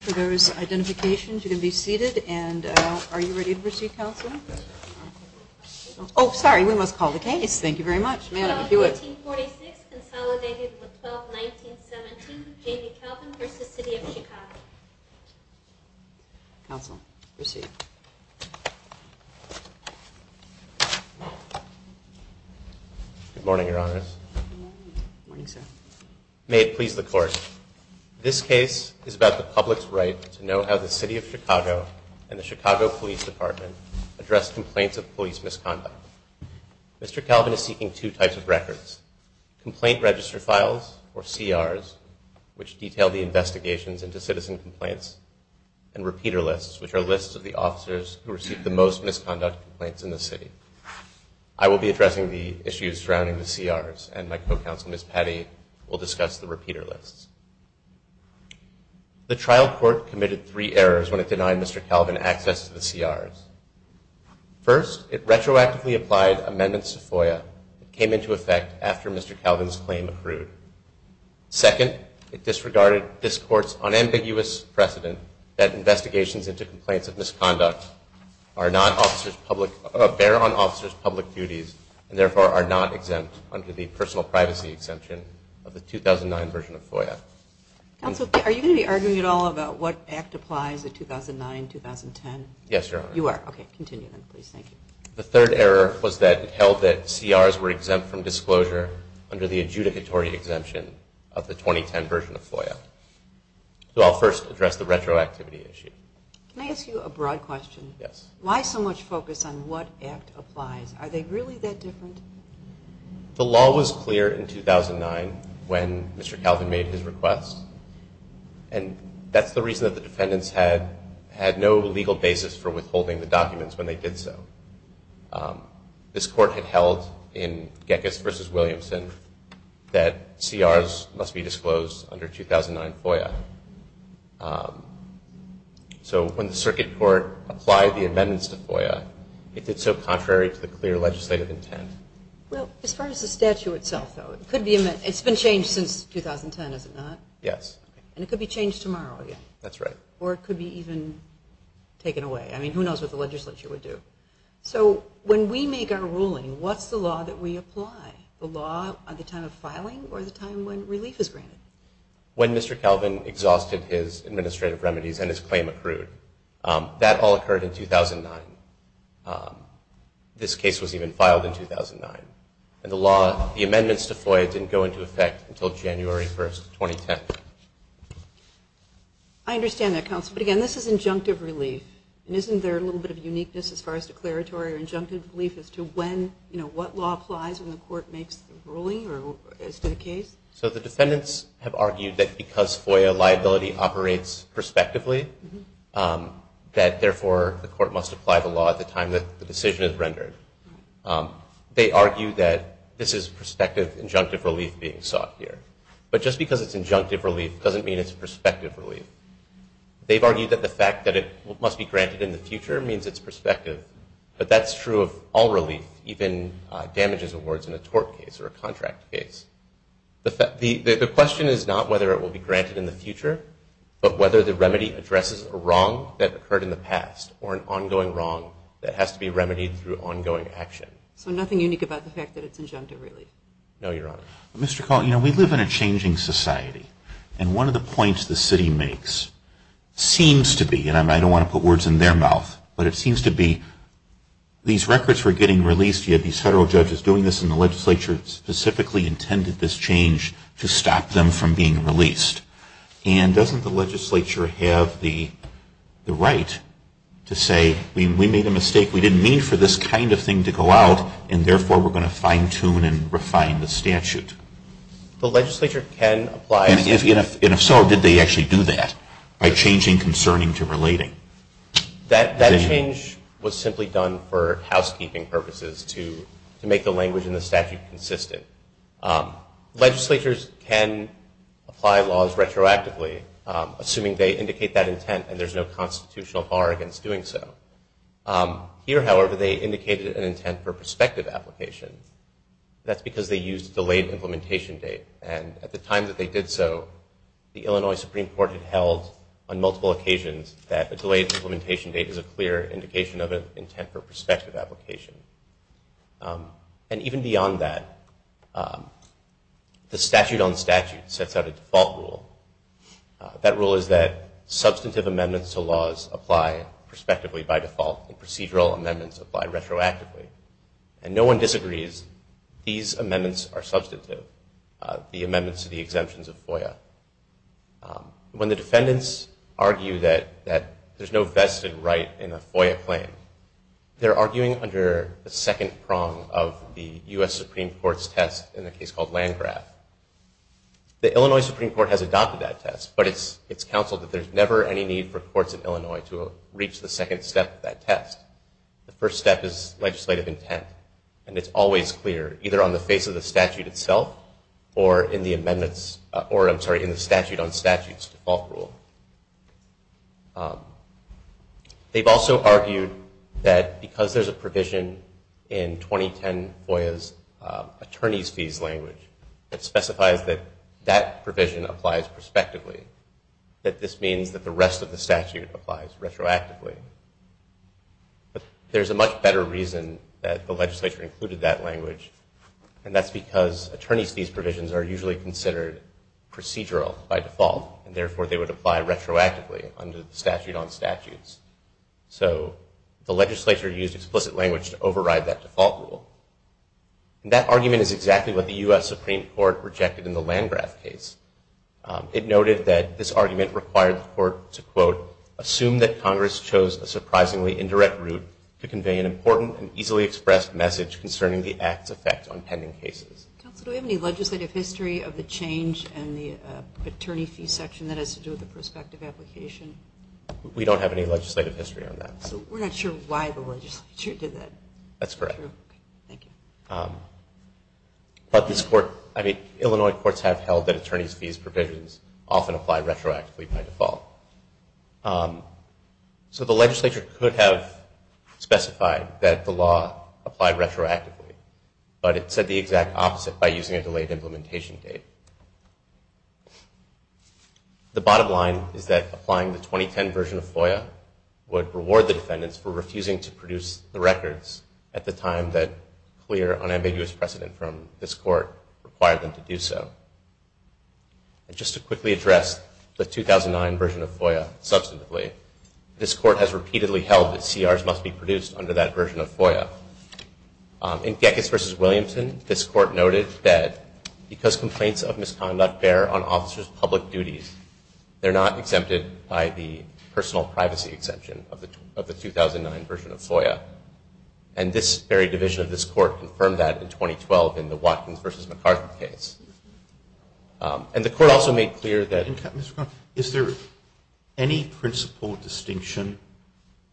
For those identifications, you can be seated. And are you ready to proceed, Counsel? Oh, sorry. We must call the case. Thank you very much. Madam, if you would. 1846 consolidated with 12-19-17, J.D. Calvin v. City of Chicago. Counsel, proceed. Good morning, Your Honors. Good morning. Good morning, sir. May it please the Court, this case is about the public's right to know how the City of Chicago and the Chicago Police Department address complaints of police misconduct. Mr. Calvin is seeking two types of records, complaint register files, or CRs, which detail the investigations into citizen complaints, and repeater lists, which are lists of the officers who received the most misconduct complaints in the city. I will be addressing the issues surrounding the CRs, and my co-counsel, Ms. Patty, will discuss the repeater lists. The trial court committed three errors when it denied Mr. Calvin access to the CRs. First, it retroactively applied amendments to FOIA that came into effect after Mr. Calvin's claim accrued. Second, it disregarded this Court's unambiguous precedent that investigations into complaints of misconduct bear on officers' public duties and, therefore, are not exempt under the personal privacy exemption of the 2009 version of FOIA. Counsel, are you going to be arguing at all about what act applies in 2009, 2010? Yes, Your Honor. You are? Okay, continue then, please. Thank you. The third error was that it held that CRs were exempt from disclosure under the adjudicatory exemption of the 2010 version of FOIA. So I'll first address the retroactivity issue. Can I ask you a broad question? Yes. Why so much focus on what act applies? Are they really that different? The law was clear in 2009 when Mr. Calvin made his request, and that's the reason that the defendants had no legal basis for withholding the documents when they did so. This Court had held in Gekas v. Williamson that CRs must be disclosed under 2009 FOIA. So when the Circuit Court applied the amendments to FOIA, it did so contrary to the clear legislative intent. Well, as far as the statute itself, though, it's been changed since 2010, is it not? Yes. And it could be changed tomorrow again. That's right. Or it could be even taken away. I mean, who knows what the legislature would do. So when we make our ruling, what's the law that we apply? The law at the time of filing or the time when relief is granted? When Mr. Calvin exhausted his administrative remedies and his claim accrued. That all occurred in 2009. This case was even filed in 2009. And the amendments to FOIA didn't go into effect until January 1, 2010. I understand that, Counsel. But, again, this is injunctive relief. And isn't there a little bit of uniqueness as far as declaratory or injunctive relief as to when, you know, what law applies when the Court makes the ruling as to the case? So the defendants have argued that because FOIA liability operates prospectively, that therefore the Court must apply the law at the time that the decision is rendered. They argue that this is prospective injunctive relief being sought here. But just because it's injunctive relief doesn't mean it's prospective relief. They've argued that the fact that it must be granted in the future means it's prospective. But that's true of all relief, even damages awards in a tort case or a contract case. The question is not whether it will be granted in the future, but whether the remedy addresses a wrong that occurred in the past or an ongoing wrong that has to be remedied through ongoing action. So nothing unique about the fact that it's injunctive relief? No, Your Honor. Mr. Collin, you know, we live in a changing society. And one of the points the city makes seems to be, and I don't want to put words in their mouth, but it seems to be these records were getting released, you had these federal judges doing this, and the legislature specifically intended this change to stop them from being released. And doesn't the legislature have the right to say we made a mistake, we didn't mean for this kind of thing to go out, and therefore we're going to fine-tune and refine the statute? The legislature can apply. And if so, did they actually do that by changing concerning to relating? That change was simply done for housekeeping purposes to make the language in the statute consistent. Legislatures can apply laws retroactively, assuming they indicate that intent and there's no constitutional bar against doing so. Here, however, they indicated an intent for prospective application. That's because they used a delayed implementation date. And at the time that they did so, the Illinois Supreme Court had held on multiple occasions that a delayed implementation date is a clear indication of an intent for prospective application. And even beyond that, the statute on statute sets out a default rule. That rule is that substantive amendments to laws apply prospectively by default, and procedural amendments apply retroactively. And no one disagrees, these amendments are substantive, the amendments to the exemptions of FOIA. When the defendants argue that there's no vested right in a FOIA claim, they're arguing under the second prong of the U.S. Supreme Court's test in a case called Landgraf. The Illinois Supreme Court has adopted that test, but it's counseled that there's never any need for courts in Illinois to reach the second step of that test. The first step is legislative intent. And it's always clear, either on the face of the statute itself, or in the amendments, or I'm sorry, in the statute on statutes default rule. They've also argued that because there's a provision in 2010 FOIA's attorney's fees language that specifies that that provision applies prospectively, that this means that the rest of the statute applies retroactively. But there's a much better reason that the legislature included that language, and that's because attorney's fees provisions are usually considered procedural by default, and therefore they would apply retroactively under the statute on statutes. So the legislature used explicit language to override that default rule. And that argument is exactly what the U.S. Supreme Court rejected in the Landgraf case. It noted that this argument required the court to, quote, assume that Congress chose a surprisingly indirect route to convey an important and easily expressed message concerning the act's effect on pending cases. Counsel, do we have any legislative history of the change in the attorney's fees section that has to do with the prospective application? We don't have any legislative history on that. So we're not sure why the legislature did that. That's correct. But Illinois courts have held that attorney's fees provisions often apply retroactively by default. So the legislature could have specified that the law applied retroactively, but it said the exact opposite by using a delayed implementation date. The bottom line is that applying the 2010 version of FOIA would reward the defendants for refusing to produce the records at the time that clear, unambiguous precedent from this court required them to do so. Just to quickly address the 2009 version of FOIA substantively, this court has repeatedly held that CRs must be produced under that version of FOIA. In Gekas v. Williamson, this court noted that because complaints of misconduct bear on officers' public duties, they're not exempted by the personal privacy exemption of the 2009 version of FOIA. And this very division of this court confirmed that in 2012 in the Watkins v. McArthur case. And the court also made clear that... Mr. Connell, is there any principal distinction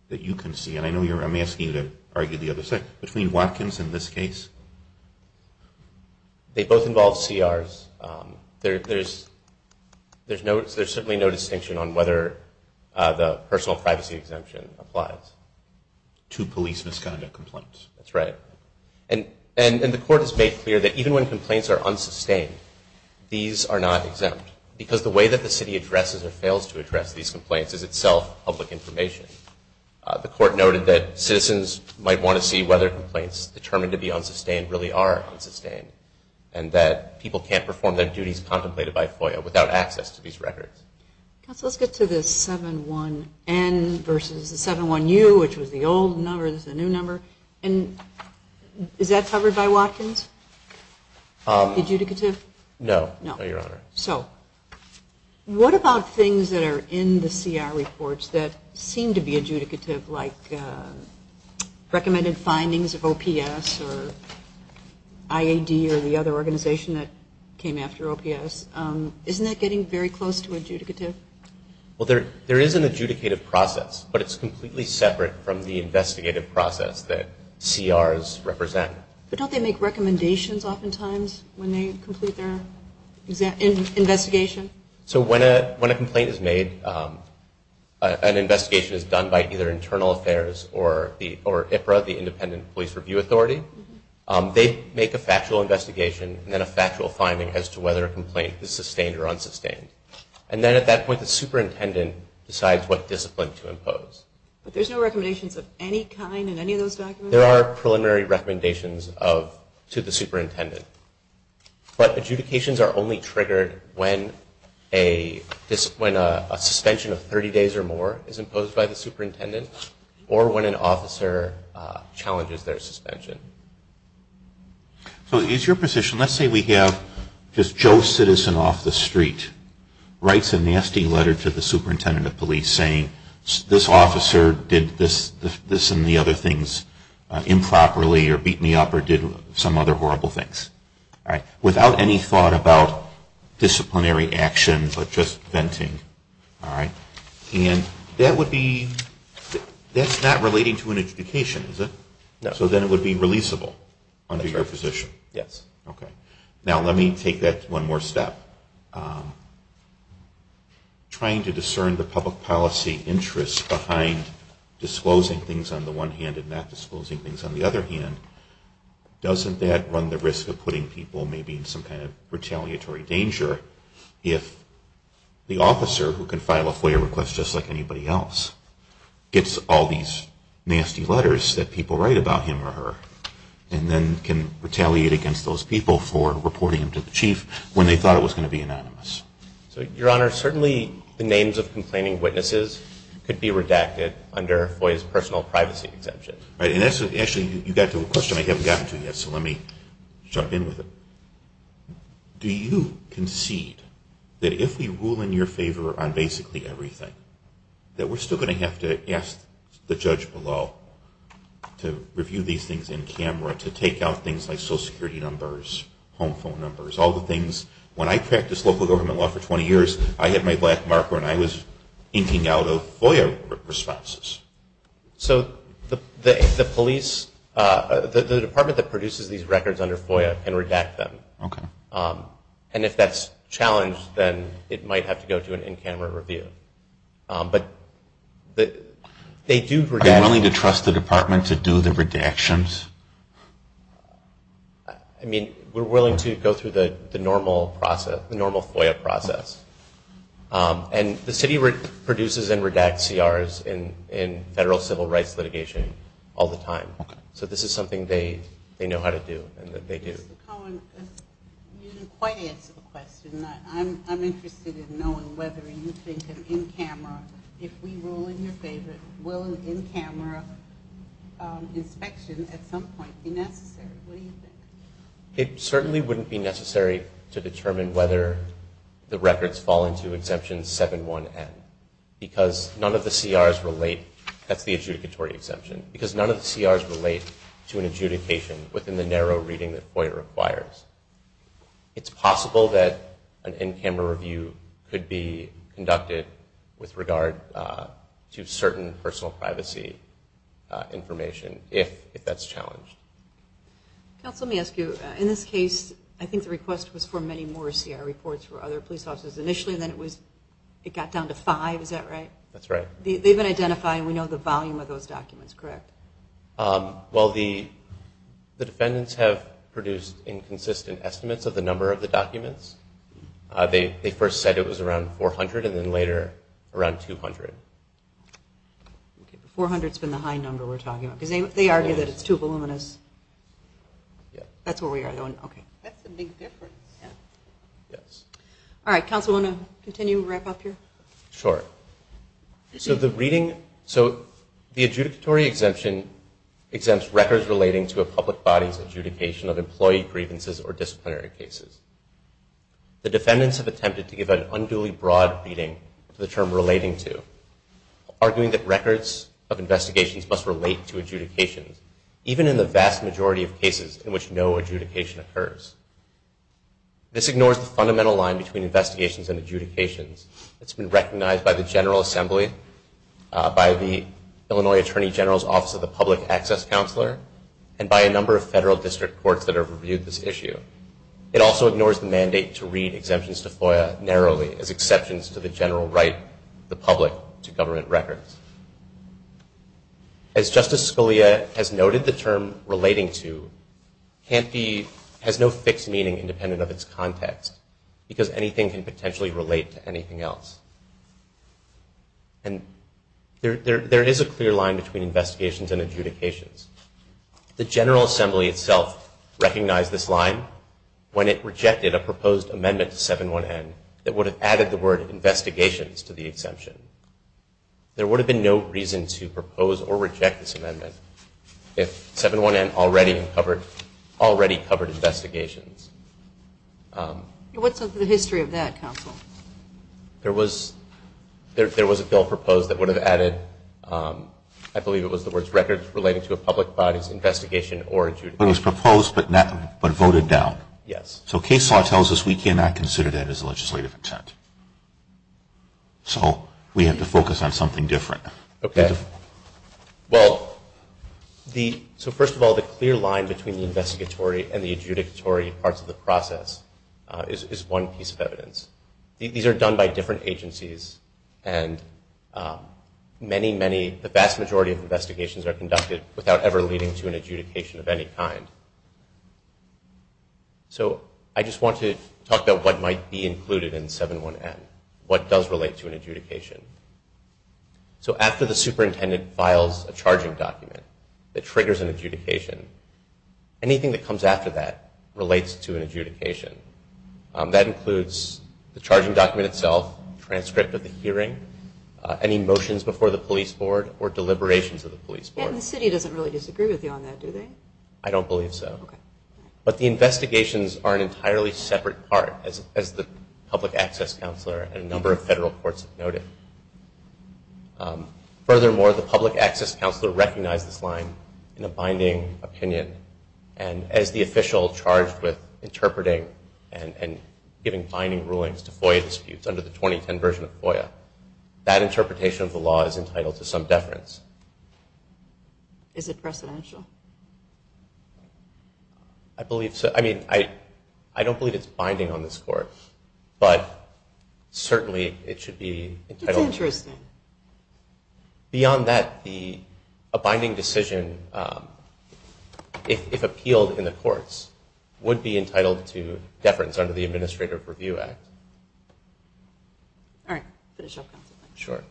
that you can see, and I'm asking you to argue the other side, between Watkins and this case? They both involve CRs. There's certainly no distinction on whether the personal privacy exemption applies. To police misconduct complaints. That's right. And the court has made clear that even when complaints are unsustained, these are not exempt, because the way that the city addresses or fails to address these complaints is itself public information. The court noted that citizens might want to see whether complaints determined to be unsustained really are unsustained, and that people can't perform their duties contemplated by FOIA without access to these records. Counsel, let's get to the 7-1-N versus the 7-1-U, which was the old number. This is the new number. And is that covered by Watkins? Adjudicative? No. No, Your Honor. So what about things that are in the CR reports that seem to be adjudicative, like recommended findings of OPS or IAD or the other organization that came after OPS? Isn't that getting very close to adjudicative? Well, there is an adjudicative process, but it's completely separate from the investigative process that CRs represent. But don't they make recommendations oftentimes when they complete their investigation? So when a complaint is made, an investigation is done by either Internal Affairs or IPRA, the Independent Police Review Authority. They make a factual investigation and then a factual finding as to whether a complaint is sustained or unsustained. And then at that point, the superintendent decides what discipline to impose. But there's no recommendations of any kind in any of those documents? There are preliminary recommendations to the superintendent. But adjudications are only triggered when a suspension of 30 days or more is imposed by the superintendent or when an officer challenges their suspension. So is your position, let's say we have just Joe Citizen off the street, writes a nasty letter to the superintendent of police saying, this officer did this and the other things improperly or beat me up or did some other horrible things. Without any thought about disciplinary action, but just venting. And that's not relating to an adjudication, is it? No. So then it would be releasable under your position? Yes. Okay. Now let me take that one more step. Trying to discern the public policy interest behind disclosing things on the one hand and not disclosing things on the other hand, doesn't that run the risk of putting people maybe in some kind of retaliatory danger if the officer, who can file a FOIA request just like anybody else, gets all these nasty letters that people write about him or her and then can retaliate against those people for reporting them to the chief when they thought it was going to be anonymous? Your Honor, certainly the names of complaining witnesses could be redacted under FOIA's personal privacy exemption. Actually, you got to a question I haven't gotten to yet, so let me jump in with it. Do you concede that if we rule in your favor on basically everything, that we're still going to have to ask the judge below to review these things in camera, to take out things like social security numbers, home phone numbers, all the things? When I practiced local government law for 20 years, I had my black marker and I was inking out of FOIA responses. So the police, the department that produces these records under FOIA can redact them. Okay. And if that's challenged, then it might have to go to an in-camera review. But they do redact them. Are you willing to trust the department to do the redactions? I mean, we're willing to go through the normal FOIA process. And the city produces and redacts CRs in federal civil rights litigation all the time. Okay. So this is something they know how to do and that they do. Mr. Cohen, you didn't quite answer the question. I'm interested in knowing whether you think an in-camera, if we rule in your favor, will an in-camera inspection at some point be necessary? What do you think? It certainly wouldn't be necessary to determine whether the records fall into Exemption 7-1N because none of the CRs relate. That's the adjudicatory exemption. Because none of the CRs relate to an adjudication within the narrow reading that FOIA requires. It's possible that an in-camera review could be conducted with regard to certain personal privacy information, if that's challenged. Counsel, let me ask you. In this case, I think the request was for many more CR reports for other police officers initially, and then it got down to five. Is that right? That's right. They've been identified, and we know the volume of those documents, correct? Well, the defendants have produced inconsistent estimates of the number of the documents. They first said it was around 400 and then later around 200. 400 has been the high number we're talking about because they argue that it's too voluminous. That's where we are, though. That's a big difference. All right. Counsel, want to continue and wrap up here? Sure. So the adjudicatory exemption exempts records relating to a public body's adjudication of employee grievances or disciplinary cases. The defendants have attempted to give an unduly broad reading to the term relating to, arguing that records of investigations must relate to adjudications, even in the vast majority of cases in which no adjudication occurs. This ignores the fundamental line between investigations and adjudications that's been recognized by the General Assembly, by the Illinois Attorney General's Office of the Public Access Counselor, and by a number of federal district courts that have reviewed this issue. It also ignores the mandate to read exemptions to FOIA narrowly as exceptions to the general right of the public to government records. As Justice Scalia has noted, the term relating to has no fixed meaning independent of its context because anything can potentially relate to anything else. And there is a clear line between investigations and adjudications. The General Assembly itself recognized this line when it rejected a proposed amendment to 7-1-N that would have added the word investigations to the exemption. There would have been no reason to propose or reject this amendment if 7-1-N already covered investigations. What's the history of that, counsel? There was a bill proposed that would have added, I believe it was the words records relating to a public body's investigation or adjudication. But it was proposed but voted down. Yes. So Case Law tells us we cannot consider that as a legislative intent. So we have to focus on something different. Okay. Well, so first of all, the clear line between the investigatory and the adjudicatory parts of the process is one piece of evidence. These are done by different agencies, and the vast majority of investigations are conducted without ever leading to an adjudication of any kind. So I just want to talk about what might be included in 7-1-N, what does relate to an adjudication. So after the superintendent files a charging document that triggers an adjudication, anything that comes after that relates to an adjudication. That includes the charging document itself, transcript of the hearing, any motions before the police board or deliberations of the police board. And the city doesn't really disagree with you on that, do they? I don't believe so. Okay. But the investigations are an entirely separate part, as the public access counselor and a number of federal courts have noted. Furthermore, the public access counselor recognized this line in a binding opinion, and as the official charged with interpreting and giving binding rulings to FOIA disputes under the 2010 version of FOIA, that interpretation of the law is entitled to some deference. Is it precedential? I believe so. I mean, I don't believe it's binding on this court, but certainly it should be entitled. It's interesting. Beyond that, a binding decision, if appealed in the courts, would be entitled to deference under the Administrative Review Act. All right. Finish up, Counsel. Sure.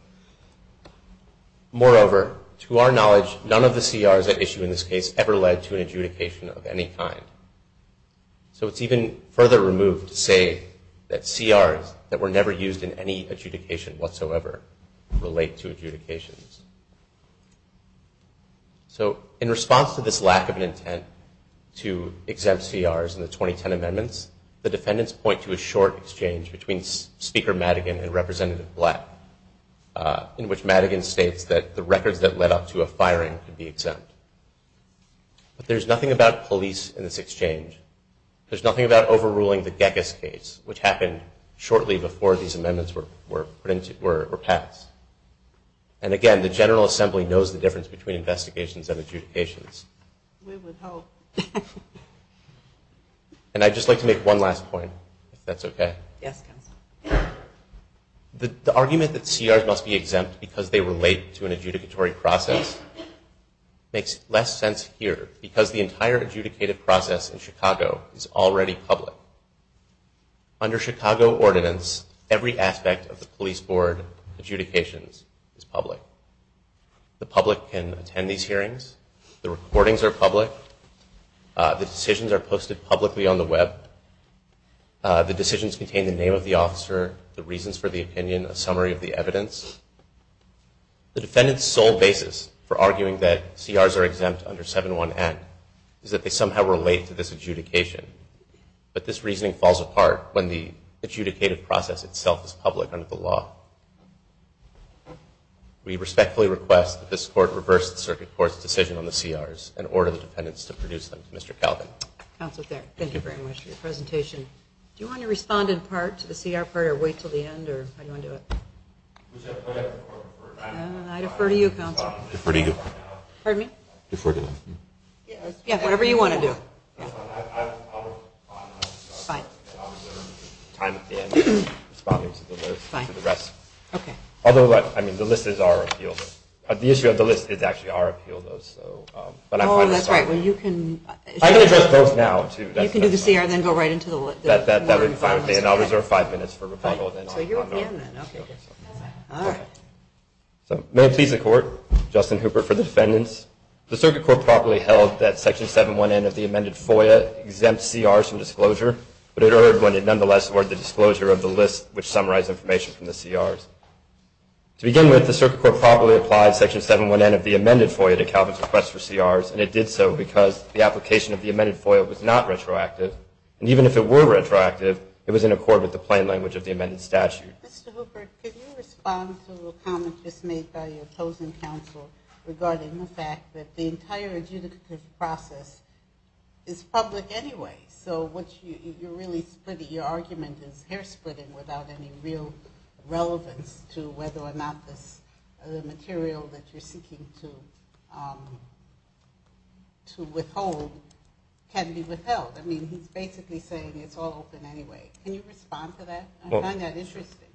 Moreover, to our knowledge, none of the CRs at issue in this case ever led to an adjudication of any kind. So it's even further removed to say that CRs that were never used in any adjudication whatsoever relate to adjudications. So in response to this lack of an intent to exempt CRs in the 2010 amendments, the defendants point to a short exchange between Speaker Madigan and Representative Black, in which Madigan states that the records that led up to a firing could be exempt. But there's nothing about police in this exchange. There's nothing about overruling the Gekas case, which happened shortly before these amendments were passed. And again, the General Assembly knows the difference between investigations and adjudications. We would hope. And I'd just like to make one last point, if that's okay. Yes, Counsel. The argument that CRs must be exempt because they relate to an adjudicatory process makes less sense here because the entire adjudicative process in Chicago is already public. Under Chicago ordinance, every aspect of the police board adjudications is public. The public can attend these hearings. The recordings are public. The decisions are posted publicly on the web. The decisions contain the name of the officer, the reasons for the opinion, a summary of the evidence. The defendant's sole basis for arguing that CRs are exempt under 7-1-N is that they somehow relate to this adjudication. But this reasoning falls apart when the adjudicated process itself is public under the law. We respectfully request that this Court reverse the Circuit Court's decision on the CRs and order the defendants to produce them. Mr. Calvin. Counsel Thayer, thank you very much for your presentation. Do you want to respond in part to the CR part or wait until the end? Or how do you want to do it? I defer to you, Counsel. Defer to you. Pardon me? Defer to you. Yeah, whatever you want to do. I'll respond. I'll reserve time at the end to respond to the rest. Although, I mean, the list is our appeal. The issue of the list is actually our appeal, though. Oh, that's right. I can address both now, too. You can do the CR and then go right into the non-informal CR. That would be fine with me, and I'll reserve five minutes for rebuttal. So you're at the end, then. Okay. All right. So may it please the Court, Justin Hooper for the defendants. The Circuit Court properly held that Section 719 of the amended FOIA exempts CRs from disclosure, but it erred when it nonetheless awarded the disclosure of the list which summarized information from the CRs. To begin with, the Circuit Court properly applied Section 719 of the amended FOIA to Calvin's request for CRs, and it did so because the application of the amended FOIA was not retroactive. And even if it were retroactive, it was in accord with the plain language of the amended statute. Mr. Hooper, can you respond to a comment just made by your opposing counsel regarding the fact that the entire adjudicative process is public anyway, so your argument is hair-spritting without any real relevance to whether or not the material that you're seeking to withhold can be withheld. I mean, he's basically saying it's all open anyway. Can you respond to that? I find that interesting.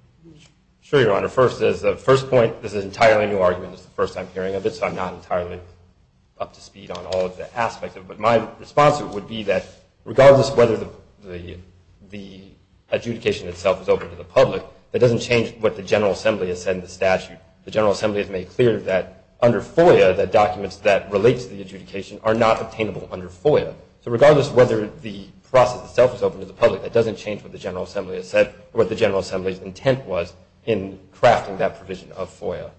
Sure, Your Honor. First, as a first point, this is an entirely new argument. This is the first I'm hearing of it, so I'm not entirely up to speed on all of the aspects of it. But my response to it would be that regardless of whether the adjudication itself is open to the public, that doesn't change what the General Assembly has said in the statute. The General Assembly has made clear that under FOIA, the documents that relate to the adjudication are not obtainable under FOIA. So regardless of whether the process itself is open to the public, that doesn't change what the General Assembly has said, what the General Assembly's intent was in crafting that provision of FOIA.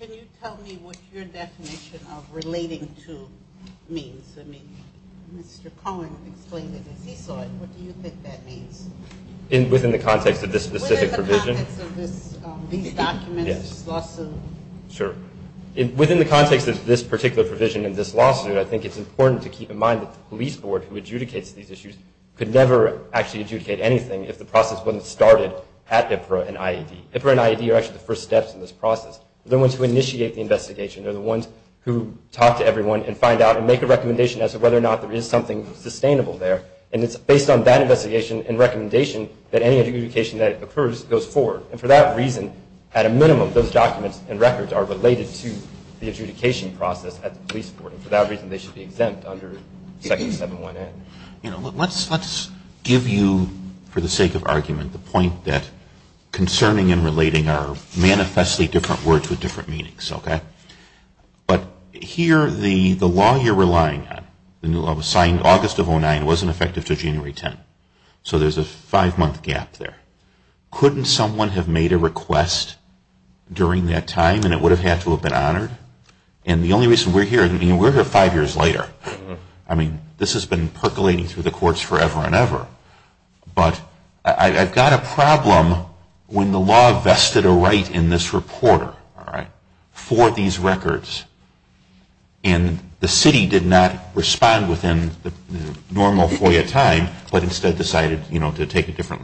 Can you tell me what your definition of relating to means? I mean, Mr. Cohen explained it as he saw it. What do you think that means? Within the context of this specific provision? Within the context of these documents, this lawsuit. Sure. Within the context of this particular provision and this lawsuit, I think it's important to keep in mind that the police board who adjudicates these issues could never actually adjudicate anything if the process wasn't started at IPRA and IED. IPRA and IED are actually the first steps in this process. They're the ones who initiate the investigation. They're the ones who talk to everyone and find out and make a recommendation as to whether or not there is something sustainable there. And it's based on that investigation and recommendation that any adjudication that occurs goes forward. And for that reason, at a minimum, those documents and records are related to the adjudication process at the police board. For that reason, they should be exempt under Section 711. Let's give you, for the sake of argument, the point that concerning and relating are manifestly different words with different meanings. But here, the law you're relying on, the new law was signed August of 2009. It wasn't effective until January 10. So there's a five-month gap there. Couldn't someone have made a request during that time and it would have had to have been honored? And the only reason we're here, I mean, we're here five years later. I mean, this has been percolating through the courts forever and ever. But I've got a problem when the law vested a right in this reporter for these records and the city did not respond within the normal FOIA time, but instead decided to take a different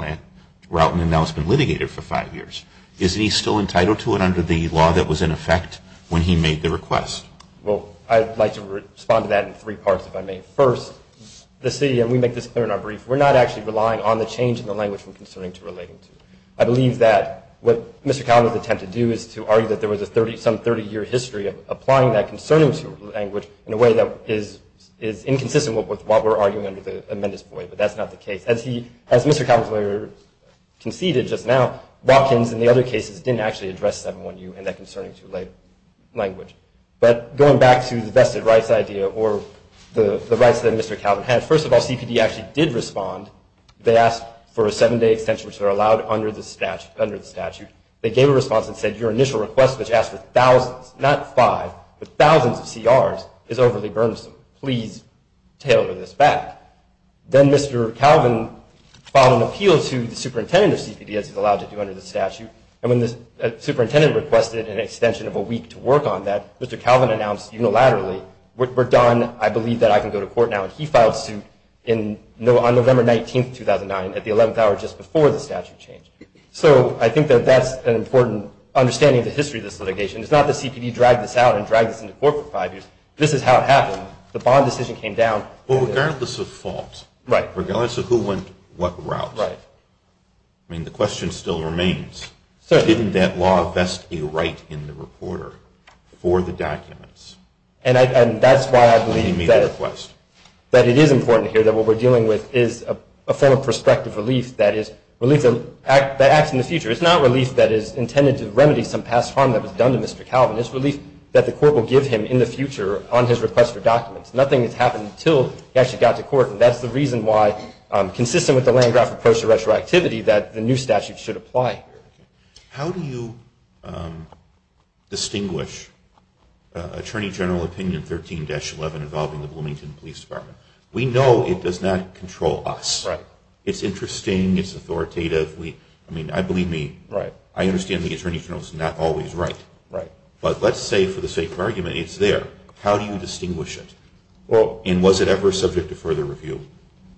route and now it's been litigated for five years. Isn't he still entitled to it under the law that was in effect when he made the request? Well, I'd like to respond to that in three parts, if I may. First, the city, and we make this clear in our brief, we're not actually relying on the change in the language from concerning to relating to. I believe that what Mr. Cowler's attempt to do is to argue that there was some 30-year history of applying that concerning language in a way that is inconsistent with what we're arguing under the amended FOIA, but that's not the case. As Mr. Cowler conceded just now, Watkins and the other cases didn't actually address 7-1-U and that concerning to language. But going back to the vested rights idea or the rights that Mr. Calvin had, first of all, CPD actually did respond. They asked for a seven-day extension, which they're allowed under the statute. They gave a response and said, your initial request, which asked for thousands, not five, but thousands of CRs is overly burdensome. Please tailor this back. Then Mr. Calvin filed an appeal to the superintendent of CPD, as he's allowed to do under the statute, and when the superintendent requested an extension of a week to work on that, Mr. Calvin announced unilaterally, we're done. I believe that I can go to court now. And he filed suit on November 19, 2009, at the 11th hour just before the statute changed. So I think that that's an important understanding of the history of this litigation. It's not that CPD dragged this out and dragged this into court for five years. This is how it happened. The bond decision came down. Well, regardless of fault, regardless of who went what route, I mean, the question still remains, didn't that law vest a right in the reporter for the documents? And that's why I believe that it is important here that what we're dealing with is a form of prospective relief that acts in the future. It's not relief that is intended to remedy some past harm that was done to Mr. Calvin. It's relief that the court will give him in the future on his request for documents. Nothing has happened until he actually got to court, and that's the reason why, consistent with the Landgraf approach to retroactivity, that the new statute should apply here. How do you distinguish Attorney General Opinion 13-11 involving the Bloomington Police Department? We know it does not control us. Right. It's interesting. It's authoritative. I mean, I believe me. Right. I understand the Attorney General is not always right. Right. But let's say, for the sake of argument, it's there. How do you distinguish it? And was it ever subject to further review?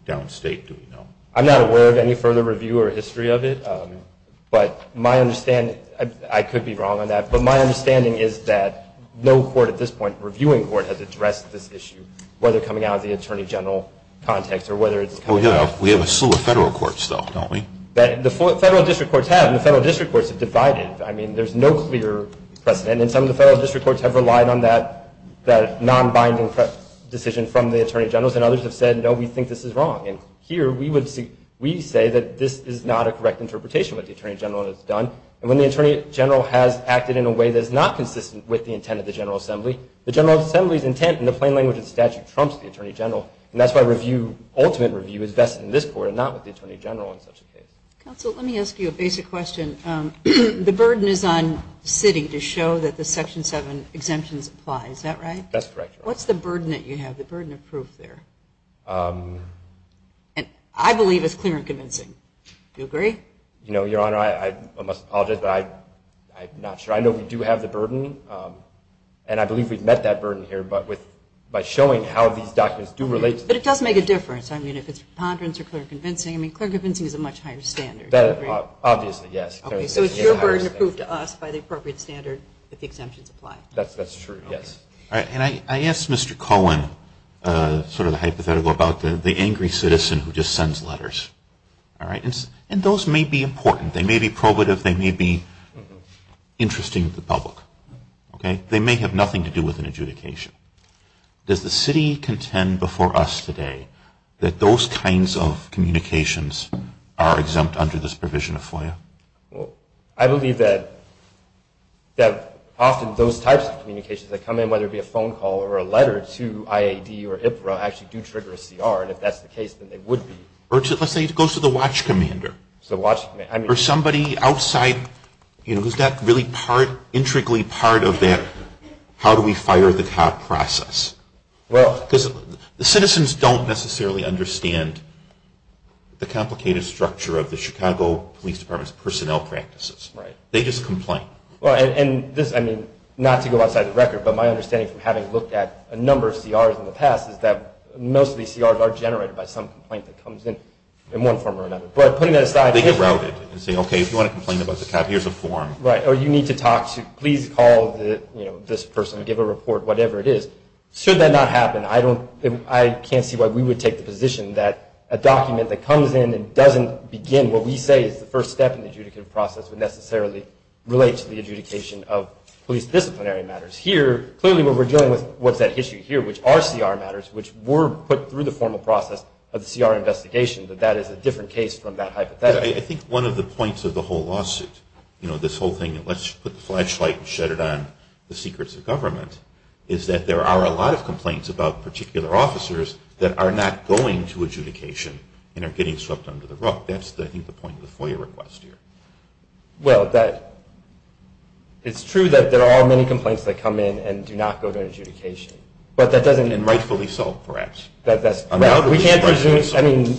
Downstate, do we know? I'm not aware of any further review or history of it. But my understanding, I could be wrong on that, but my understanding is that no court at this point, reviewing court, has addressed this issue, whether coming out of the Attorney General context or whether it's coming out. We have a slew of federal courts, though, don't we? The federal district courts have, and the federal district courts have divided. I mean, there's no clear precedent, and some of the federal district courts have relied on that non-binding decision from the Attorney Generals, and others have said, no, we think this is wrong. And here we say that this is not a correct interpretation of what the Attorney General has done. And when the Attorney General has acted in a way that is not consistent with the intent of the General Assembly, the General Assembly's intent in the plain language of the statute trumps the Attorney General. And that's why review, ultimate review, is best in this court and not with the Attorney General in such a case. Counsel, let me ask you a basic question. The burden is on the city to show that the Section 7 exemptions apply. Is that right? That's correct, Your Honor. What's the burden that you have, the burden of proof there? And I believe it's clear and convincing. Do you agree? You know, Your Honor, I must apologize, but I'm not sure. I know we do have the burden, and I believe we've met that burden here, but by showing how these documents do relate to this. But it does make a difference. I mean, if it's preponderance or clear and convincing. I mean, clear and convincing is a much higher standard. Obviously, yes. So it's your burden to prove to us by the appropriate standard that the exemptions apply. That's true, yes. All right. And I asked Mr. Cohen sort of the hypothetical about the angry citizen who just sends letters. All right. And those may be important. They may be probative. They may be interesting to the public. Okay? They may have nothing to do with an adjudication. Does the city contend before us today that those kinds of communications are exempt under this provision of FOIA? Well, I believe that often those types of communications that come in, whether it be a phone call or a letter to IAD or IPRA, actually do trigger a CR. And if that's the case, then they would be. Or let's say it goes to the watch commander. To the watch commander. Or somebody outside who's not really intricately part of that how do we fire the cop process. Because the citizens don't necessarily understand the complicated structure of the Chicago Police Department's personnel practices. Right. They just complain. And this, I mean, not to go outside the record, but my understanding from having looked at a number of CRs in the past is that most of these CRs are generated by some complaint that comes in in one form or another. They get routed and say, okay, if you want to complain about the cop, here's a form. Right. Or you need to talk to, please call this person, give a report, whatever it is. Should that not happen, I can't see why we would take the position that a document that comes in and doesn't begin what we say is the first step in the adjudicative process would necessarily relate to the adjudication of police disciplinary matters. Here, clearly what we're dealing with, what's at issue here, which are CR matters, which were put through the formal process of the CR investigation, that that is a different case from that hypothetical. I think one of the points of the whole lawsuit, you know, this whole thing, let's put the flashlight and shed it on the secrets of government, is that there are a lot of complaints about particular officers that are not going to adjudication and are getting swept under the rug. That's, I think, the point of the FOIA request here. Well, it's true that there are many complaints that come in and do not go to adjudication. And rightfully so, perhaps. We can't presume, I mean,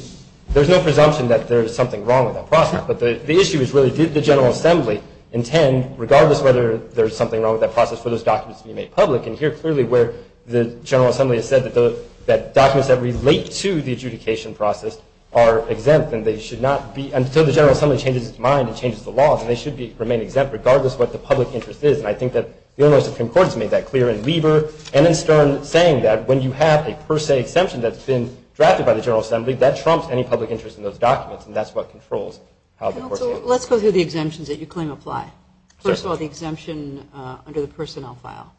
there's no presumption that there's something wrong with that process. But the issue is really, did the General Assembly intend, regardless whether there's something wrong with that process, for those documents to be made public? And here, clearly, where the General Assembly has said that documents that relate to the adjudication process are exempt and they should not be until the General Assembly changes its mind and changes the laws, and they should remain exempt regardless of what the public interest is. And I think that the Illinois Supreme Court has made that clear in Lieber and in Stern, saying that when you have a per se exemption that's been drafted by the General Assembly, that trumps any public interest in those documents, and that's what controls how the courts handle it. Let's go through the exemptions that you claim apply. First of all, the exemption under the personnel file.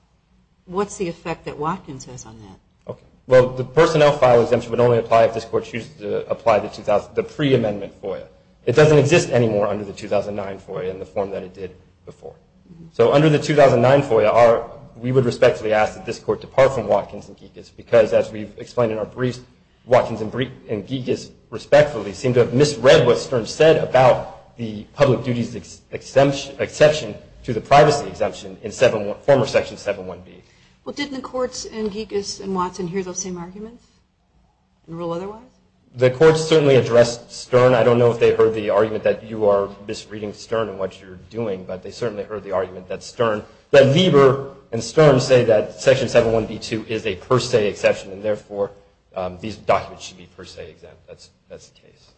What's the effect that Watkins has on that? Well, the personnel file exemption would only apply if this Court chooses to apply the pre-amendment FOIA. It doesn't exist anymore under the 2009 FOIA in the form that it did before. So under the 2009 FOIA, we would respectfully ask that this Court depart from Watkins and Gikas because, as we've explained in our briefs, Watkins and Gikas, respectfully, seem to have misread what Stern said about the public duties exception to the privacy exemption in former Section 7.1b. Well, didn't the courts in Gikas and Watson hear those same arguments and rule otherwise? The courts certainly addressed Stern. I don't know if they heard the argument that you are misreading Stern and what you're doing, but they certainly heard the argument that Lieber and Stern say that Section 7.1b.2 is a per se exception and therefore these documents should be per se exempt. That's the case.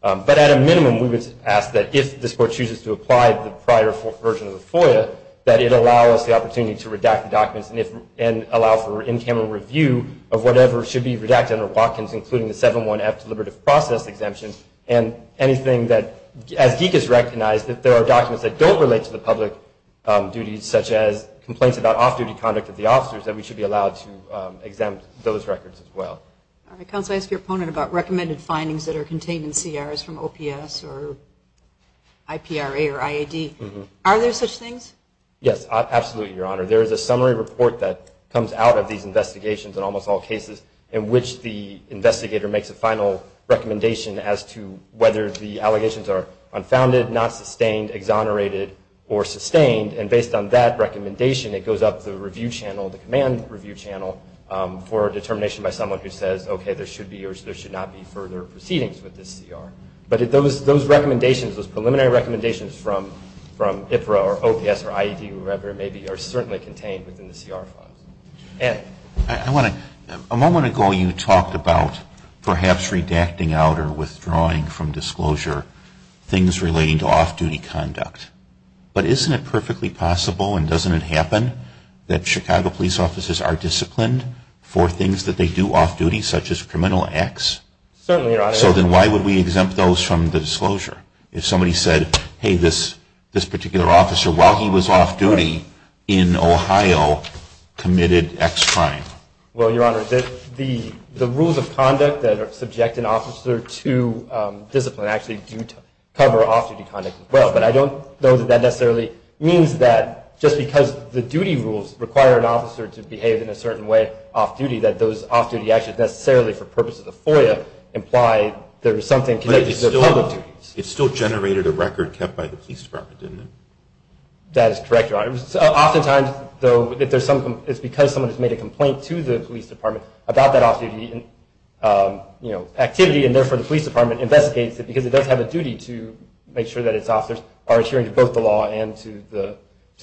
But at a minimum, we would ask that if this Court chooses to apply the prior version of the FOIA, that it allow us the opportunity to redact the documents and allow for in-camera review of whatever should be redacted under Watkins, including the 7.1f deliberative process exemption and anything that, as Gikas recognized, if there are documents that don't relate to the public duties, such as complaints about off-duty conduct of the officers, that we should be allowed to exempt those records as well. All right. Counsel, I asked your opponent about recommended findings that are contained in CRs from OPS or IPRA or IAD. Are there such things? Yes, absolutely, Your Honor. There is a summary report that comes out of these investigations in almost all cases in which the investigator makes a final recommendation as to whether the allegations are unfounded, not sustained, exonerated, or sustained. And based on that recommendation, it goes up the review channel, the command review channel, for a determination by someone who says, okay, there should be or there should not be further proceedings with this CR. But those recommendations, those preliminary recommendations from IPRA or OPS or IAD or wherever it may be, are certainly contained within the CR funds. Anne. I want to – a moment ago you talked about perhaps redacting out or withdrawing from disclosure things relating to off-duty conduct. But isn't it perfectly possible, and doesn't it happen, that Chicago police officers are disciplined for things that they do off-duty, such as criminal acts? Certainly, Your Honor. So then why would we exempt those from the disclosure? If somebody said, hey, this particular officer, while he was off-duty in Ohio, committed X crime? Well, Your Honor, the rules of conduct that subject an officer to discipline actually do cover off-duty conduct as well. But I don't know that that necessarily means that just because the duty rules require an officer to behave in a certain way off-duty, that those off-duty actions necessarily, for purposes of FOIA, imply there was something connected to their public duties. But it still generated a record kept by the police department, didn't it? That is correct, Your Honor. Oftentimes, though, it's because someone has made a complaint to the police department about that off-duty activity, and therefore the police department investigates it because it does have a duty to make sure that its officers are adhering to both the law and to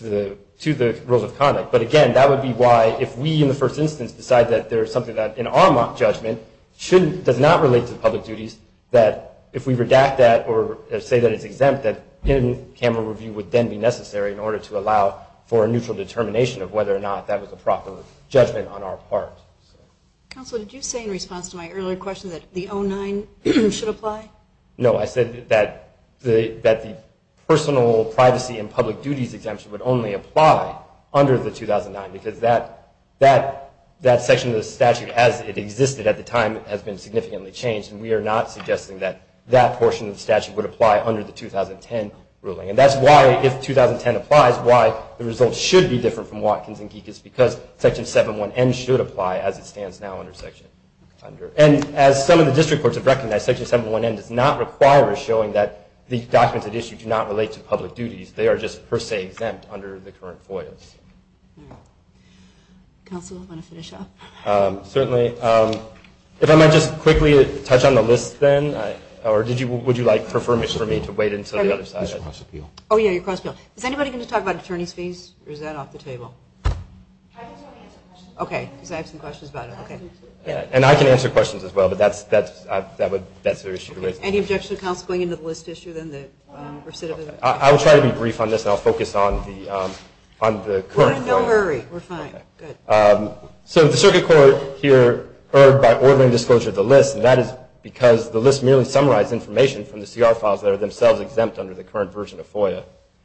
the rules of conduct. But again, that would be why if we, in the first instance, decide that there is something that, in our mock judgment, does not relate to public duties, that if we redact that or say that it's exempt, that in-camera review would then be necessary in order to allow for a neutral determination of whether or not that was a proper judgment on our part. Counselor, did you say in response to my earlier question that the 09 should apply? No, I said that the personal privacy and public duties exemption would only apply under the 2009 because that section of the statute, as it existed at the time, has been significantly changed, and we are not suggesting that that portion of the statute would apply under the 2010 ruling. And that's why, if 2010 applies, why the results should be different from Watkins and Geek is because Section 7.1.N should apply as it stands now under Section 7.1.N. And as some of the district courts have recognized, Section 7.1.N does not require us showing that the documents at issue do not relate to public duties. They are just per se exempt under the current FOIAs. Counselor, do you want to finish up? Certainly. If I might just quickly touch on the list then, or would you like for me to wait until the other side? Oh, yeah, your cross appeal. Is anybody going to talk about attorney's fees, or is that off the table? I just want to answer questions. Okay, because I have some questions about it. And I can answer questions as well, but that's an issue to raise. Any objections to counsel going into the list issue then? I will try to be brief on this, and I'll focus on the current FOIA. No hurry. We're fine. So the circuit court here erred by ordering disclosure of the list, and that is because the list merely summarized information from the CR files that are themselves exempt under the current version of FOIA.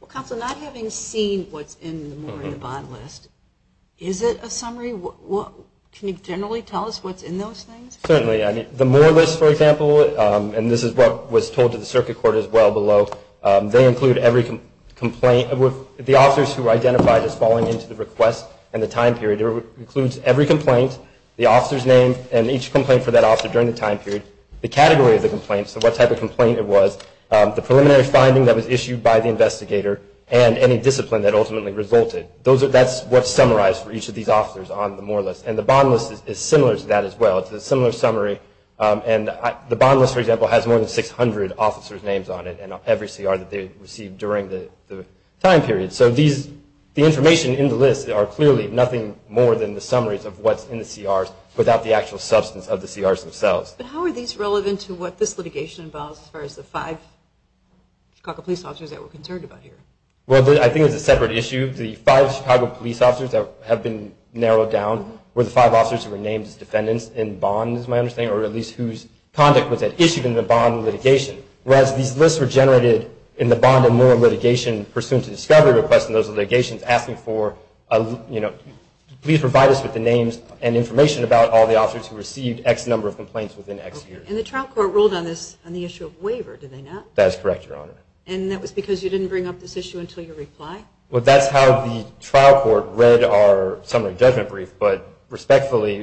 Counsel, not having seen what's in the more in the bond list, is it a summary? Can you generally tell us what's in those things? Certainly. The more list, for example, and this is what was told to the circuit court as well below, they include every complaint with the officers who were identified as falling into the request and the time period. It includes every complaint, the officer's name, and each complaint for that officer during the time period, the category of the complaint, so what type of complaint it was, the preliminary finding that was issued by the investigator, and any discipline that ultimately resulted. That's what's summarized for each of these officers on the more list. And the bond list is similar to that as well. It's a similar summary. And the bond list, for example, has more than 600 officers' names on it and every CR that they received during the time period. So the information in the list are clearly nothing more than the summaries of what's in the CRs without the actual substance of the CRs themselves. But how are these relevant to what this litigation involves as far as the five Chicago police officers that we're concerned about here? Well, I think it's a separate issue. The five Chicago police officers that have been narrowed down were the five officers who were named as defendants in bonds, my understanding, or at least whose conduct was issued in the bond litigation. Whereas these lists were generated in the bond and more litigation pursuant to discovery requests in those litigations asking for, you know, all the officers who received X number of complaints within X years. And the trial court ruled on this on the issue of waiver, did they not? That is correct, Your Honor. And that was because you didn't bring up this issue until your reply? Well, that's how the trial court read our summary judgment brief. But respectfully,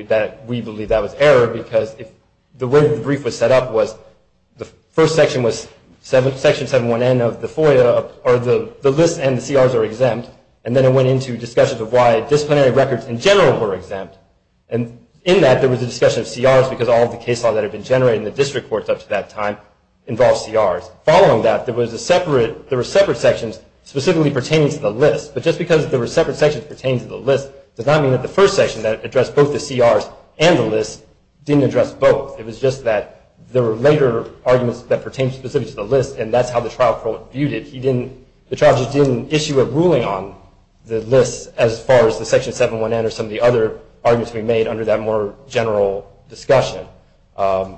we believe that was error because the way the brief was set up was the first section was Section 71N of the FOIA, or the list and the CRs are exempt. And in that, there was a discussion of CRs because all of the case law that had been generated in the district courts up to that time involved CRs. Following that, there were separate sections specifically pertaining to the list. But just because there were separate sections pertaining to the list does not mean that the first section that addressed both the CRs and the list didn't address both. It was just that there were later arguments that pertained specifically to the list, and that's how the trial court viewed it. The trial judge didn't issue a ruling on the list as far as the Section 71N or some of the other arguments we made under that more general discussion.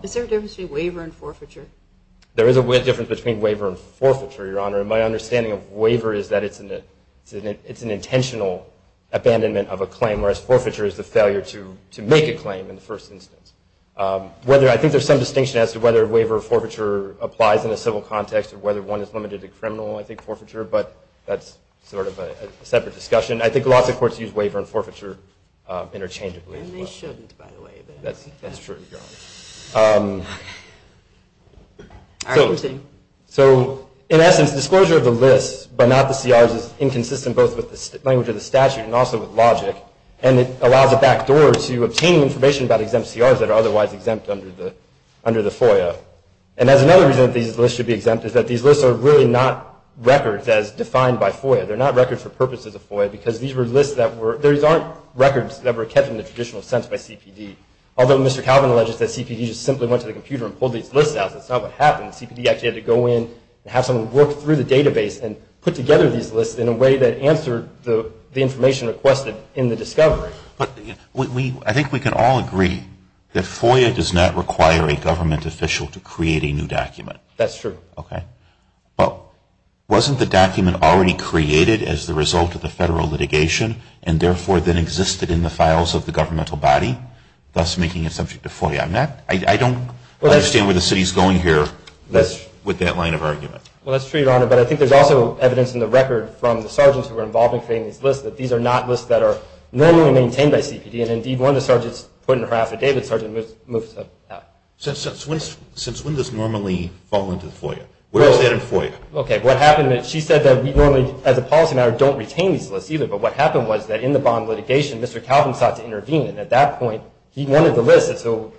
Is there a difference between waiver and forfeiture? There is a difference between waiver and forfeiture, Your Honor. My understanding of waiver is that it's an intentional abandonment of a claim, whereas forfeiture is the failure to make a claim in the first instance. I think there's some distinction as to whether waiver or forfeiture applies in a civil context or whether one is limited to criminal, I think, forfeiture, but that's sort of a separate discussion. I think lots of courts use waiver and forfeiture interchangeably. And they shouldn't, by the way. That's true, Your Honor. So in essence, disclosure of the list, but not the CRs, is inconsistent both with the language of the statute and also with logic, and it allows a backdoor to obtaining information about exempt CRs that are otherwise exempt under the FOIA. And that's another reason that these lists should be exempt, is that these lists are really not records as defined by FOIA. They're not records for purposes of FOIA, because these were lists that were – these aren't records that were kept in the traditional sense by CPD. Although Mr. Calvin alleges that CPD just simply went to the computer and pulled these lists out, that's not what happened. CPD actually had to go in and have someone work through the database and put together these lists in a way that answered the information requested in the discovery. But I think we can all agree that FOIA does not require a government official to create a new document. That's true. Okay. But wasn't the document already created as the result of the federal litigation and therefore then existed in the files of the governmental body, thus making it subject to FOIA? I'm not – I don't understand where the city is going here with that line of argument. Well, that's true, Your Honor, but I think there's also evidence in the record from the sergeants who were involved in creating these lists, that these are not lists that are normally maintained by CPD, and indeed one of the sergeants put in her affidavit, Sergeant, moved that out. Since when does normally fall into the FOIA? Where is that in FOIA? Okay. What happened is she said that we normally, as a policy matter, don't retain these lists either, but what happened was that in the bond litigation Mr. Calvin sought to intervene, and at that point he wanted the lists, and so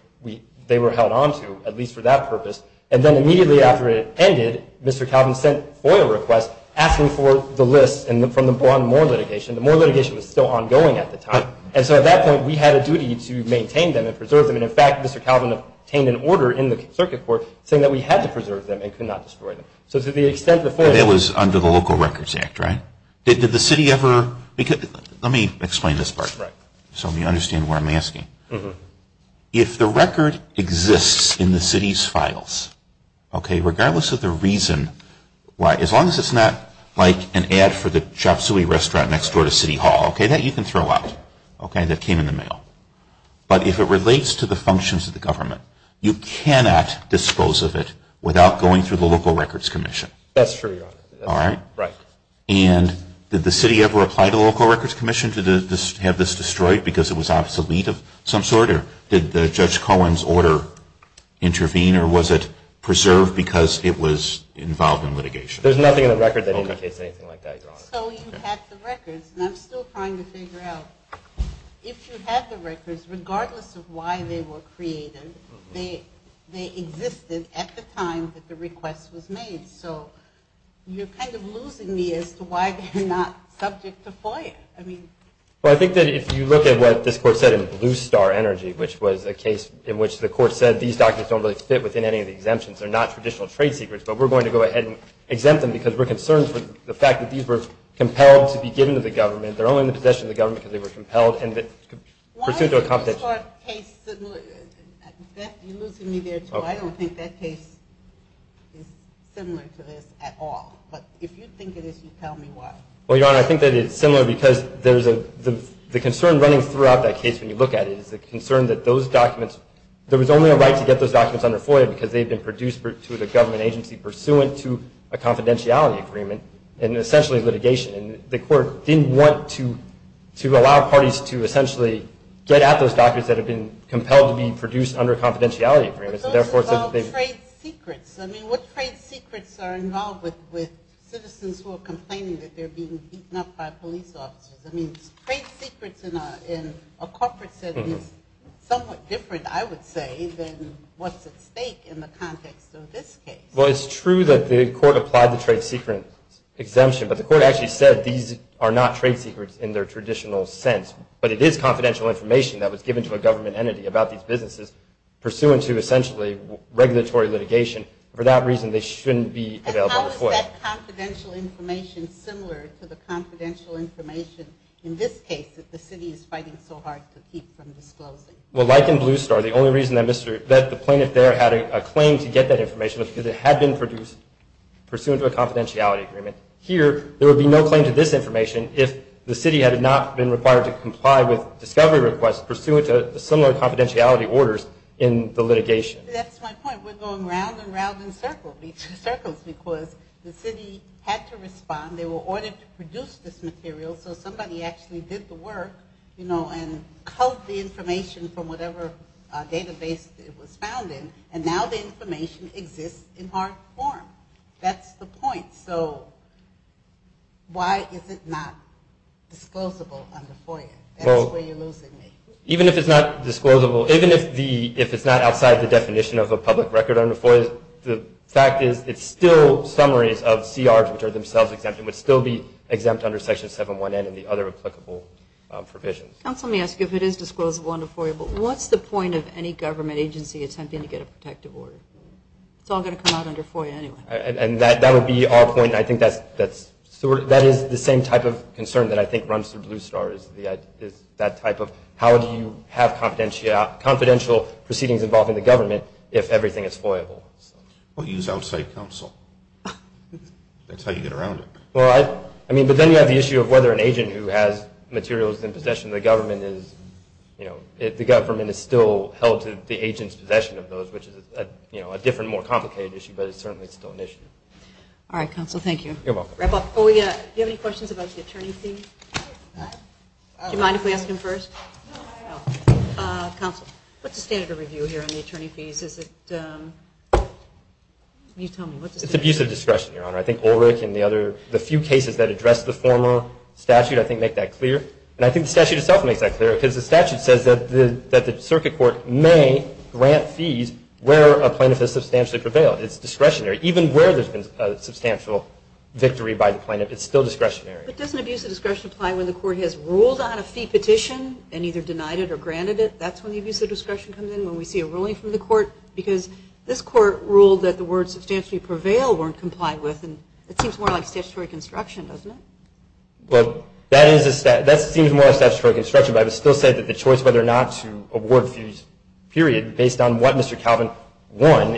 they were held on to, at least for that purpose. And then immediately after it ended, Mr. Calvin sent FOIA requests asking for the lists from the bond moral litigation. The moral litigation was still ongoing at the time, and so at that point we had a duty to maintain them and preserve them. And, in fact, Mr. Calvin obtained an order in the circuit court saying that we had to preserve them and could not destroy them. So to the extent the FOIA was under the Local Records Act, right? Did the city ever, let me explain this part so you understand what I'm asking. If the record exists in the city's files, okay, regardless of the reason why, as long as it's not like an ad for the chop suey restaurant next door to City Hall, but if it relates to the functions of the government, you cannot dispose of it without going through the Local Records Commission. That's true, Your Honor. All right? Right. And did the city ever apply to the Local Records Commission to have this destroyed because it was obsolete of some sort, or did Judge Cohen's order intervene, or was it preserved because it was involved in litigation? There's nothing in the record that indicates anything like that, Your Honor. So you have the records, and I'm still trying to figure out if you have the records, regardless of why they were created, they existed at the time that the request was made. So you're kind of losing me as to why they're not subject to FOIA. Well, I think that if you look at what this Court said in Blue Star Energy, which was a case in which the Court said these documents don't really fit within any of the exemptions, they're not traditional trade secrets, but we're going to go ahead and exempt them because we're concerned for the fact that these were compelled to be given to the government, they're only in the possession of the government because they were compelled, and pursuant to a confidentiality agreement. Why is this Court's case similar? You're losing me there, too. I don't think that case is similar to this at all. But if you think it is, you tell me why. Well, Your Honor, I think that it's similar because there's a – the concern running throughout that case when you look at it is the concern that those documents – there was only a right to get those documents under FOIA because they had been produced to the government agency pursuant to a confidentiality agreement, and essentially litigation. And the Court didn't want to allow parties to essentially get at those documents that had been compelled to be produced under a confidentiality agreement, so therefore – But those involve trade secrets. I mean, what trade secrets are involved with citizens who are complaining that they're being beaten up by police officers? I mean, trade secrets in a corporate setting is somewhat different, I would say, than what's at stake in the context of this case. Well, it's true that the Court applied the trade secret exemption, but the Court actually said these are not trade secrets in their traditional sense. But it is confidential information that was given to a government entity about these businesses pursuant to, essentially, regulatory litigation. For that reason, they shouldn't be available to the Court. And how is that confidential information similar to the confidential information in this case that the city is fighting so hard to keep from disclosing? Well, like in Blue Star, the only reason that the plaintiff there had a claim to get that information was because it had been produced pursuant to a confidentiality agreement. Here, there would be no claim to this information if the city had not been required to comply with discovery requests pursuant to similar confidentiality orders in the litigation. That's my point. We're going round and round in circles because the city had to respond. They were ordered to produce this material, so somebody actually did the work and culled the information from whatever database it was found in, and now the information exists in hard form. That's the point. So why is it not disclosable under FOIA? That's where you're losing me. Even if it's not outside the definition of a public record under FOIA, the fact is it's still summaries of CRs which are themselves exempt. It would still be exempt under Section 7.1n and the other applicable provisions. Counsel, let me ask you if it is disclosable under FOIA, but what's the point of any government agency attempting to get a protective order? It's all going to come out under FOIA anyway. That would be our point. I think that is the same type of concern that I think runs through Blue Star, is that type of how do you have confidential proceedings involved in the government if everything is FOIA-able. Well, use outside counsel. That's how you get around it. But then you have the issue of whether an agent who has materials in possession of the government is still held to the agent's possession of those, which is a different, more complicated issue, but it's certainly still an issue. All right, counsel, thank you. You're welcome. Before we wrap up, do you have any questions about the attorney fee? Do you mind if we ask him first? No, I don't. Counsel, what's the standard of review here on the attorney fees? You tell me. It's abuse of discretion, Your Honor. I think Ulrich and the few cases that address the former statute I think make that clear. And I think the statute itself makes that clear, because the statute says that the circuit court may grant fees where a plaintiff has substantially prevailed. It's discretionary. Even where there's been a substantial victory by the plaintiff, it's still discretionary. But doesn't abuse of discretion apply when the court has ruled on a fee petition and either denied it or granted it? That's when the abuse of discretion comes in, when we see a ruling from the court? Because this court ruled that the words substantially prevail weren't complied with, and it seems more like statutory construction, doesn't it? Well, that seems more like statutory construction, but I would still say that the choice whether or not to award fees, period, based on what Mr. Calvin won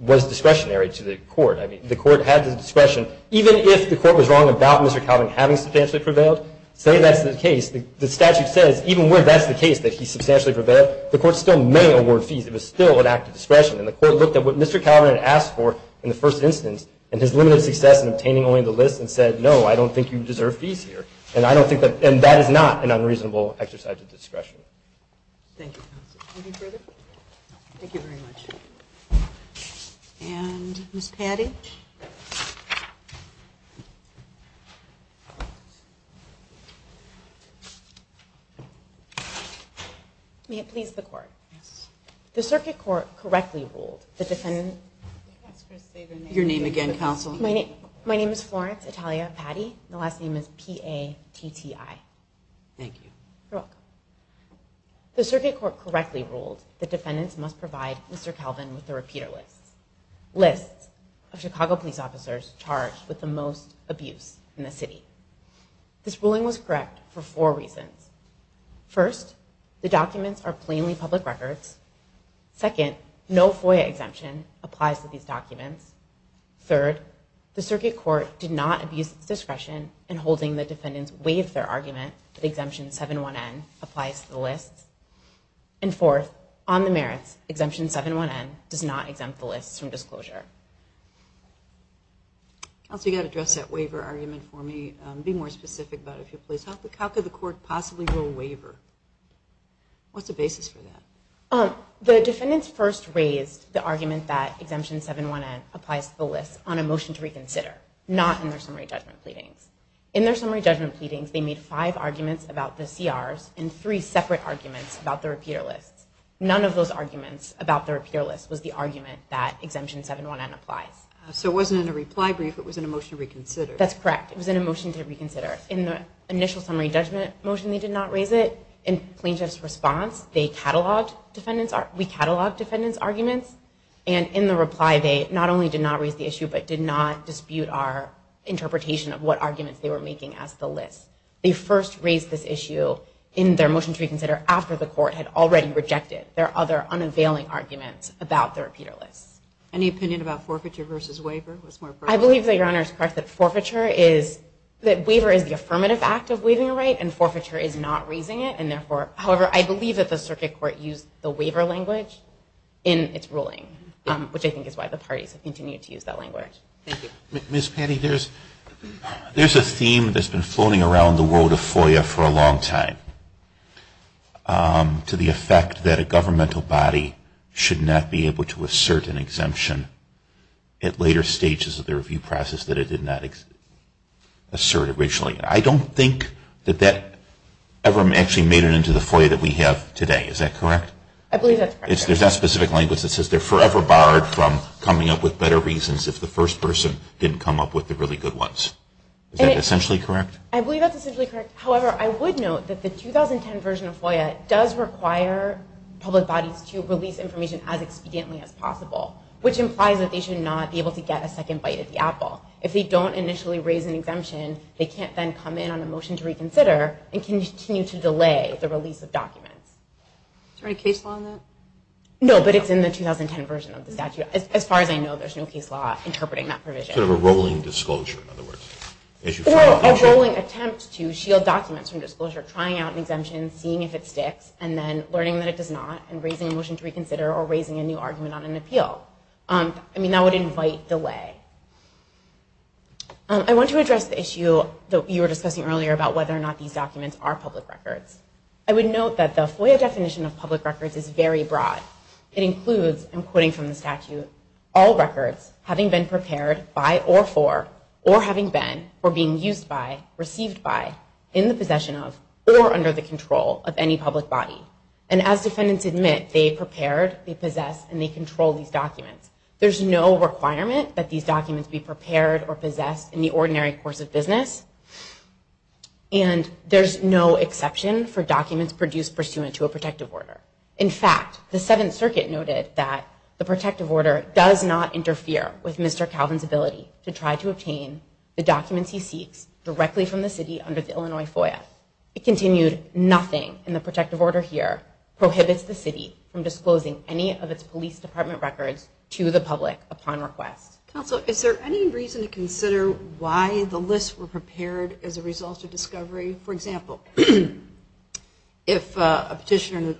was discretionary to the court. I mean, the court had the discretion. Even if the court was wrong about Mr. Calvin having substantially prevailed, say that's the case, the statute says even where that's the case, that he substantially prevailed, the court still may award fees. It was still an act of discretion. And the court looked at what Mr. Calvin had asked for in the first instance and his limited success in obtaining only the list and said, no, I don't think you deserve fees here. And that is not an unreasonable exercise of discretion. Thank you, counsel. Any further? No. Thank you very much. And Ms. Paddy? May it please the court? Yes. The circuit court correctly ruled that the defendant... Your name again, counsel. My name is Florence Italia Paddy. My last name is P-A-T-T-I. Thank you. You're welcome. The circuit court correctly ruled that defendants must provide Mr. Calvin with the repeater list, lists of Chicago police officers charged with the most abuse in the city. This ruling was correct for four reasons. First, the documents are plainly public records. Second, no FOIA exemption applies to these documents. Third, the circuit court did not abuse its discretion in holding the defendants waive their argument that exemption 7-1-N applies to the lists. And fourth, on the merits, exemption 7-1-N does not exempt the lists from disclosure. Counsel, you've got to address that waiver argument for me. Be more specific about it, please. How could the court possibly rule waiver? What's the basis for that? The defendants first raised the argument that exemption 7-1-N applies to the lists on a motion to reconsider, not in their summary judgment pleadings. In their summary judgment pleadings, they made five arguments about the CRs and three separate arguments about the repeater lists. None of those arguments about the repeater list was the argument that exemption 7-1-N applies. So it wasn't in a reply brief. It was in a motion to reconsider. That's correct. It was in a motion to reconsider. In the initial summary judgment motion, they did not raise it. In plaintiff's response, we catalogued defendants' arguments. And in the reply, they not only did not raise the issue, but did not dispute our interpretation of what arguments they were making as the lists. They first raised this issue in their motion to reconsider after the court had already rejected their other unavailing arguments about the repeater lists. Any opinion about forfeiture versus waiver? I believe that Your Honor is correct that forfeiture is, that waiver is the affirmative act of waiving a right and forfeiture is not raising it. And therefore, however, I believe that the circuit court used the waiver language in its ruling, which I think is why the parties have continued to use that language. Thank you. Ms. Patty, there's a theme that's been floating around the world of FOIA for a long time to the effect that a governmental body should not be able to assert an exemption at later stages of the review process that it did not assert originally. I don't think that that ever actually made it into the FOIA that we have today. Is that correct? I believe that's correct, Your Honor. There's that specific language that says they're forever barred from coming up with better reasons if the first person didn't come up with the really good ones. Is that essentially correct? I believe that's essentially correct. However, I would note that the 2010 version of FOIA does require public bodies to release information as expediently as possible, which implies that they should not be able to get a second bite at the apple. If they don't initially raise an exemption, they can't then come in on a motion to reconsider and continue to delay the release of documents. Is there any case law in that? No, but it's in the 2010 version of the statute. As far as I know, there's no case law interpreting that provision. Sort of a rolling disclosure, in other words. Or a rolling attempt to shield documents from disclosure, trying out an exemption, seeing if it sticks, and then learning that it does not and raising a motion to reconsider or raising a new argument on an appeal. I mean, that would invite delay. I want to address the issue that you were discussing earlier about whether or not these documents are public records. I would note that the FOIA definition of public records is very broad. It includes, and I'm quoting from the statute, all records having been prepared by or for, or having been, or being used by, received by, in the possession of, or under the control of any public body. and they control these documents. There's no requirement that these documents be prepared or possessed in the ordinary course of business. And there's no exception for documents produced pursuant to a protective order. In fact, the Seventh Circuit noted that the protective order does not interfere with Mr. Calvin's ability to try to obtain the documents he seeks directly from the city under the Illinois FOIA. It continued, nothing in the protective order here prohibits the city from disclosing any of its police department records to the public upon request. Counsel, is there any reason to consider why the lists were prepared as a result of discovery? For example, if a petitioner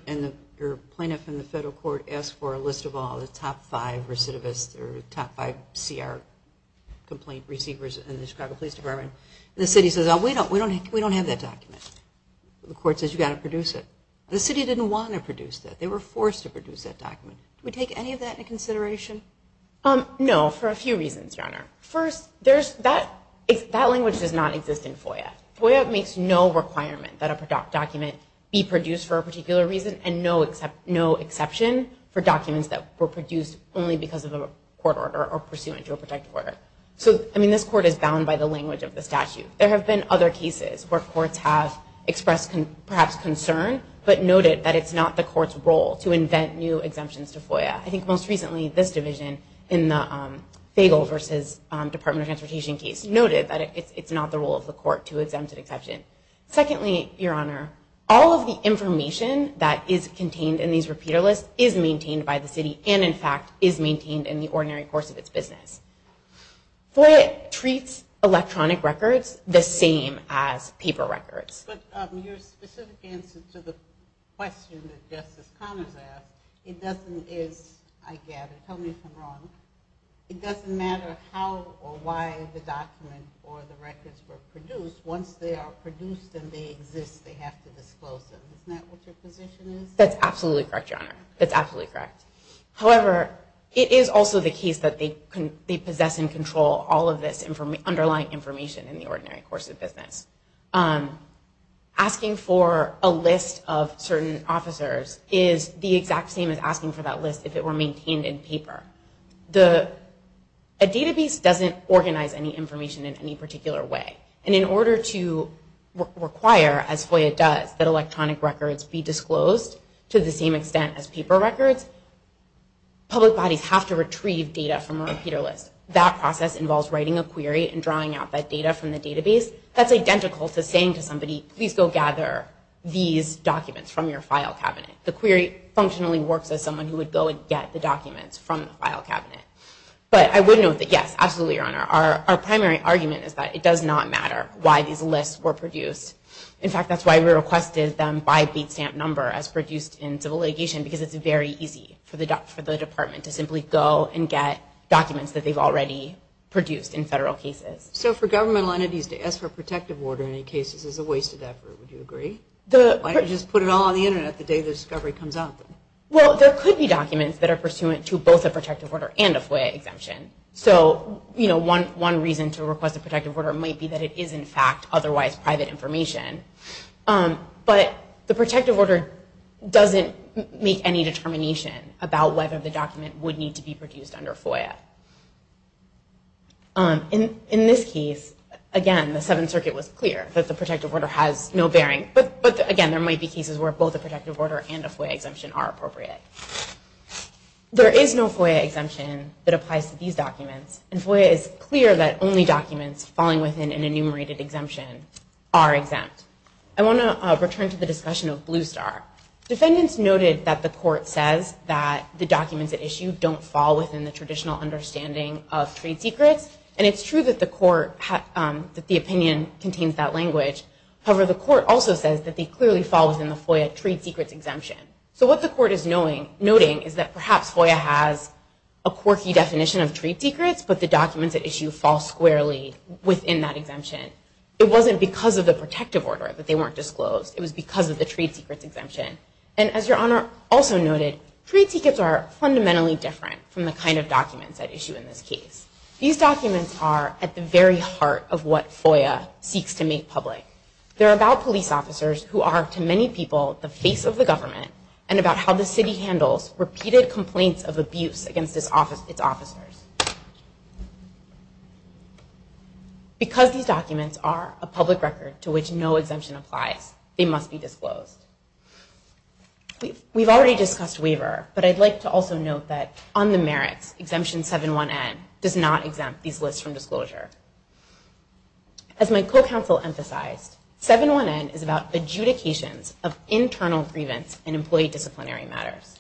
or plaintiff in the federal court asks for a list of all the top five recidivists or top five CR complaint receivers in the Chicago Police Department, and the city says, we don't have that document. The court says, you've got to produce it. The city didn't want to produce that. They were forced to produce that document. Do we take any of that into consideration? No, for a few reasons, Your Honor. First, that language does not exist in FOIA. FOIA makes no requirement that a document be produced for a particular reason and no exception for documents that were produced only because of a court order or pursuant to a protective order. So, I mean, this court is bound by the language of the statute. There have been other cases where courts have expressed perhaps concern but noted that it's not the court's role to invent new exemptions to FOIA. I think most recently this division in the Fagle versus Department of Transportation case noted that it's not the role of the court to exempt an exception. Secondly, Your Honor, all of the information that is contained in these repeater lists is maintained by the city and, in fact, is maintained in the ordinary course of its business. FOIA treats electronic records the same as paper records. But your specific answer to the question that Justice Connors asked, it doesn't, I gather, tell me if I'm wrong, it doesn't matter how or why the document or the records were produced. Once they are produced and they exist, they have to disclose them. Isn't that what your position is? That's absolutely correct, Your Honor. That's absolutely correct. However, it is also the case that they possess and control all of this underlying information in the ordinary course of business. Asking for a list of certain officers is the exact same as asking for that list if it were maintained in paper. A database doesn't organize any information in any particular way. And in order to require, as FOIA does, that electronic records be disclosed to the same extent as paper records, public bodies have to retrieve data from a repeater list. That process involves writing a query and drawing out that data from the database. That's identical to saying to somebody, please go gather these documents from your file cabinet. The query functionally works as someone who would go and get the documents from the file cabinet. But I would note that, yes, absolutely, Your Honor. Our primary argument is that it does not matter why these lists were produced. In fact, that's why we requested them by beat stamp number as produced in civil litigation, because it's very easy for the department to simply go and get documents that they've already produced in federal cases. So for governmental entities to ask for a protective order in any case is a wasted effort, would you agree? Why not just put it all on the Internet the day the discovery comes out? Well, there could be documents that are pursuant to both a protective order and a FOIA exemption. So, you know, one reason to request a protective order might be that it is, in fact, otherwise private information. But the protective order doesn't make any determination about whether the document would need to be produced under FOIA. In this case, again, the Seventh Circuit was clear that the protective order has no bearing. But, again, there might be cases where both a protective order and a FOIA exemption are appropriate. There is no FOIA exemption that applies to these documents. And FOIA is clear that only documents falling within an enumerated exemption are exempt. I want to return to the discussion of Blue Star. Defendants noted that the court says that the documents at issue don't fall within the traditional understanding of trade secrets. And it's true that the opinion contains that language. However, the court also says that they clearly fall within the FOIA trade secrets exemption. So what the court is noting is that perhaps FOIA has a quirky definition of trade secrets, but the documents at issue fall squarely within that exemption. It wasn't because of the protective order that they weren't disclosed. It was because of the trade secrets exemption. And as Your Honor also noted, trade secrets are fundamentally different from the kind of documents at issue in this case. These documents are at the very heart of what FOIA seeks to make public. They're about police officers who are, to many people, the face of the government and about how the city handles repeated complaints of abuse against its officers. Because these documents are a public record to which no exemption applies, they must be disclosed. We've already discussed waiver, but I'd like to also note that on the merits, Exemption 7-1-N does not exempt these lists from disclosure. As my co-counsel emphasized, 7-1-N is about adjudications of internal grievance in employee disciplinary matters.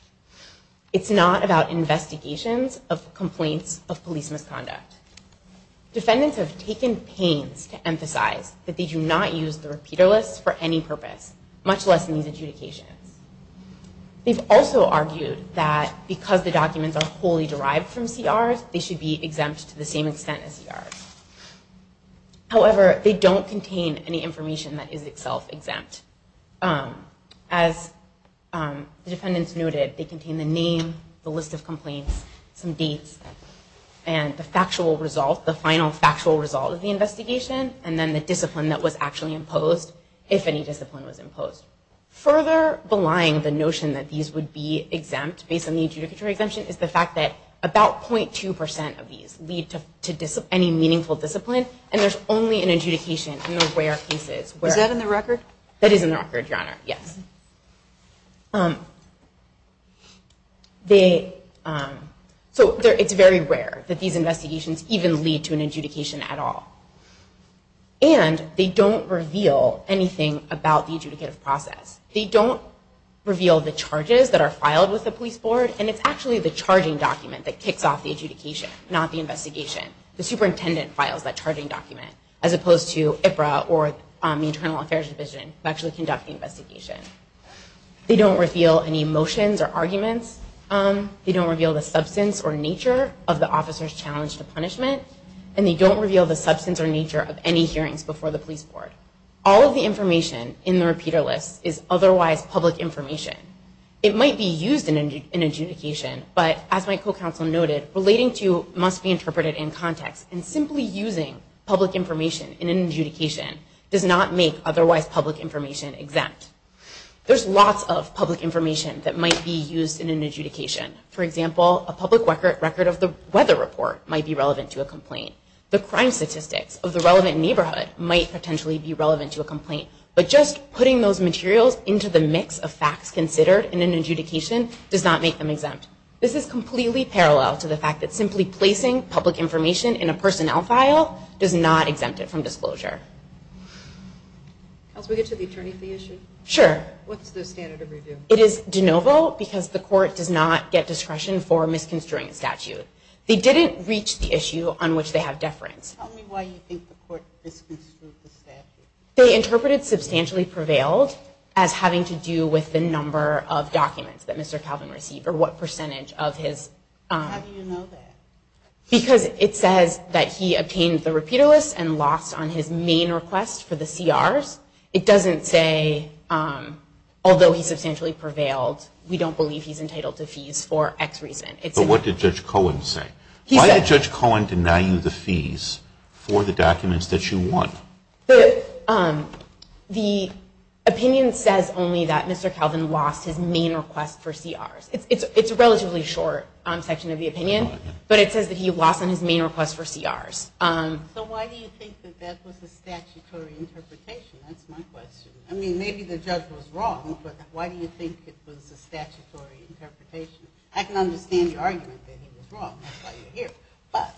It's not about investigations of complaints of police misconduct. Defendants have taken pains to emphasize that they do not use the repeater list for any purpose, much less in these adjudications. They've also argued that because the documents are wholly derived from CRs, they should be exempt to the same extent as CRs. However, they don't contain any information that is itself exempt. As the defendants noted, they contain the name, the list of complaints, some dates, and the factual result, the final factual result of the investigation, and then the discipline that was actually imposed, if any discipline was imposed. Further belying the notion that these would be exempt based on the adjudicatory exemption is the fact that about 0.2% of these lead to any meaningful discipline, and there's only an adjudication in the rare cases where- Is that in the record? That is in the record, Your Honor, yes. Okay. So it's very rare that these investigations even lead to an adjudication at all. And they don't reveal anything about the adjudicative process. They don't reveal the charges that are filed with the police board, and it's actually the charging document that kicks off the adjudication, not the investigation. The superintendent files that charging document, as opposed to IPRA or the Internal Affairs Division who actually conduct the investigation. They don't reveal any motions or arguments. They don't reveal the substance or nature of the officer's challenge to punishment, and they don't reveal the substance or nature of any hearings before the police board. All of the information in the repeater list is otherwise public information. It might be used in adjudication, but as my co-counsel noted, relating to must be interpreted in context, and simply using public information in an adjudication does not make otherwise public information exempt. There's lots of public information that might be used in an adjudication. For example, a public record of the weather report might be relevant to a complaint. The crime statistics of the relevant neighborhood might potentially be relevant to a complaint, but just putting those materials into the mix of facts considered in an adjudication does not make them exempt. This is completely parallel to the fact that simply placing public information in a personnel file does not exempt it from disclosure. Can we get to the attorney fee issue? Sure. What's the standard of review? It is de novo because the court does not get discretion for misconstruing a statute. They didn't reach the issue on which they have deference. Tell me why you think the court misconstrued the statute. They interpreted substantially prevailed as having to do with the number of documents that Mr. Calvin received, or what percentage of his... How do you know that? Because it says that he obtained the repeater list and lost on his main request for the CRs. It doesn't say, although he substantially prevailed, we don't believe he's entitled to fees for X reason. But what did Judge Cohen say? Why did Judge Cohen deny you the fees for the documents that you want? The opinion says only that Mr. Calvin lost his main request for CRs. It's a relatively short section of the opinion, but it says that he lost on his main request for CRs. So why do you think that that was a statutory interpretation? That's my question. I mean, maybe the judge was wrong, but why do you think it was a statutory interpretation? I can understand the argument that he was wrong. That's why you're here. But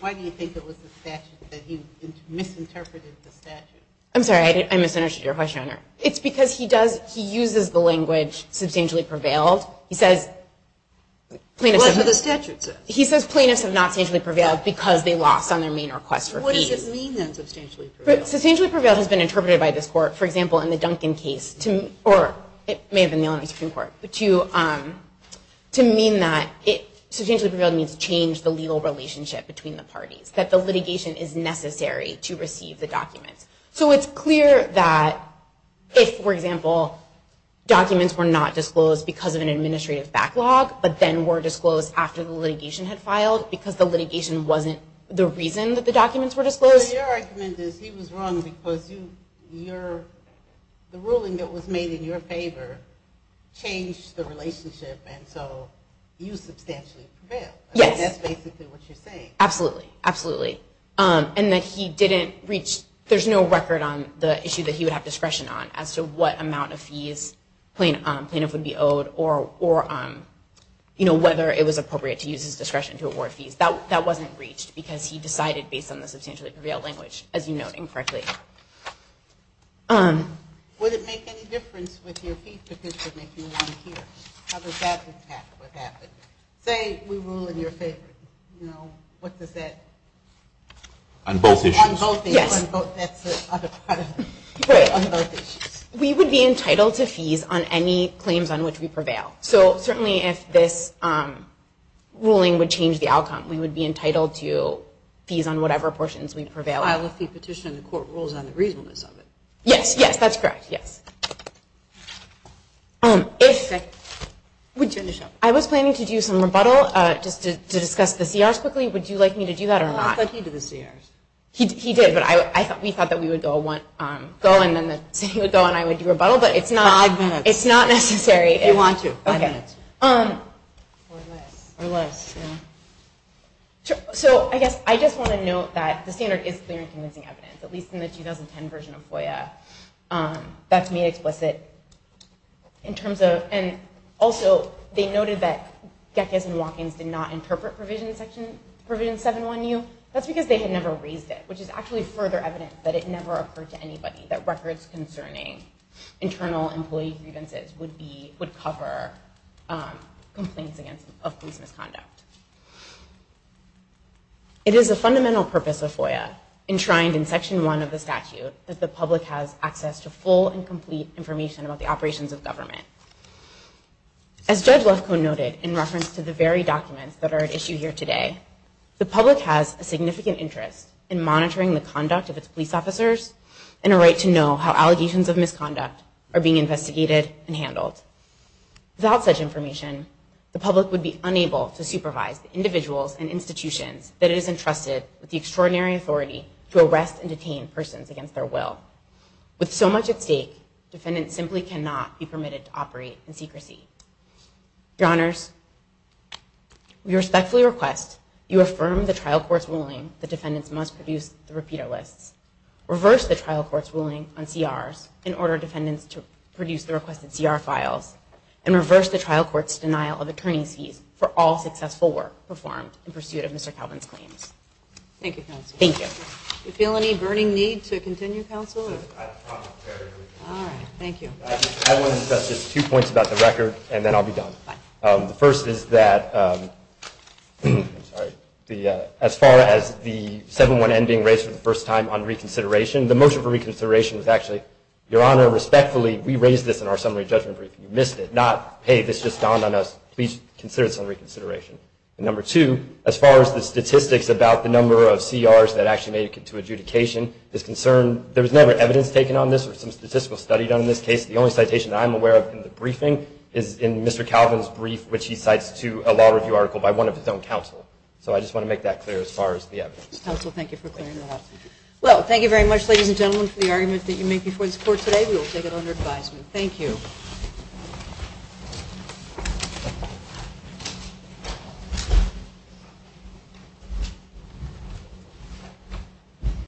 why do you think it was a statute that he misinterpreted the statute? I'm sorry, I misunderstood your question, Your Honor. It's because he uses the language substantially prevailed. He says plaintiffs have not substantially prevailed because they lost on their main request for fees. What does this mean, then, substantially prevailed? Substantially prevailed has been interpreted by this court, for example, in the Duncan case, or it may have been the Illinois Supreme Court, to mean that substantially prevailed means change the legal relationship between the parties, that the litigation is necessary to receive the documents. So it's clear that if, for example, documents were not disclosed because of an administrative backlog, but then were disclosed after the litigation had filed because the litigation wasn't the reason that the documents were disclosed. Your argument is he was wrong because the ruling that was made in your favor changed the relationship, and so you substantially prevailed. Yes. That's basically what you're saying. Absolutely. Absolutely. And that he didn't reach, there's no record on the issue that he would have discretion on as to what amount of fees plaintiff would be owed or whether it was appropriate to use his discretion to award fees. That wasn't reached because he decided based on the substantially prevailed language, as you note incorrectly. Would it make any difference with your fee petition if you were here? How does that impact what happened? Say we rule in your favor. What does that? On both issues. On both issues. Yes. That's the other part of it. On both issues. We would be entitled to fees on any claims on which we prevail. So certainly if this ruling would change the outcome, we would be entitled to fees on whatever portions we prevail on. File a fee petition and the court rules on the reasonableness of it. Yes. Yes. That's correct. Yes. I was planning to do some rebuttal just to discuss the CRs quickly. Would you like me to do that or not? I thought he did the CRs. He did, but we thought that we would go and then the city would go and I would do rebuttal. Five minutes. It's not necessary. If you want to. Five minutes. Or less. Or less. So I guess I just want to note that the standard is clear and convincing evidence, at least in the 2010 version of FOIA. That's made explicit in terms of, and also they noted that Gekas and Walk-Ins did not interpret Provision 7-1U. That's because they had never raised it, which is actually further evidence that it never occurred to anybody that records concerning internal employee grievances would be, would cover complaints of police misconduct. It is a fundamental purpose of FOIA enshrined in Section 1 of the Criminal Code that the public has access to full and complete information about the operations of government. As Judge Lefkoe noted in reference to the very documents that are at issue here today, the public has a significant interest in monitoring the conduct of its police officers and a right to know how allegations of misconduct are being investigated and handled. Without such information, the public would be unable to supervise the individuals and institutions that it is entrusted with the With so much at stake, defendants simply cannot be permitted to operate in secrecy. Your Honors, we respectfully request you affirm the trial court's ruling that defendants must produce the repeater lists, reverse the trial court's ruling on CRs in order for defendants to produce the requested CR files, and reverse the trial court's denial of attorney's fees for all successful work performed in pursuit of Mr. Calvin's claims. Thank you, Counsel. Thank you. Do you feel any burning need to continue, Counsel? I promise. All right. Thank you. I want to discuss just two points about the record, and then I'll be done. The first is that as far as the 7-1-N being raised for the first time on reconsideration, the motion for reconsideration was actually, Your Honor, respectfully, we raised this in our summary judgment briefing. You missed it. Not, hey, this just dawned on us. Please consider this on reconsideration. Number two, as far as the statistics about the number of CRs that actually made it to adjudication, this concern, there was never evidence taken on this or some statistical study done on this case. The only citation I'm aware of in the briefing is in Mr. Calvin's brief, which he cites to a law review article by one of his own counsel. So I just want to make that clear as far as the evidence. Counsel, thank you for clearing that up. Well, thank you very much, ladies and gentlemen, for the argument that you make before this Court today. We will take it under advisement. Thank you. Thank you.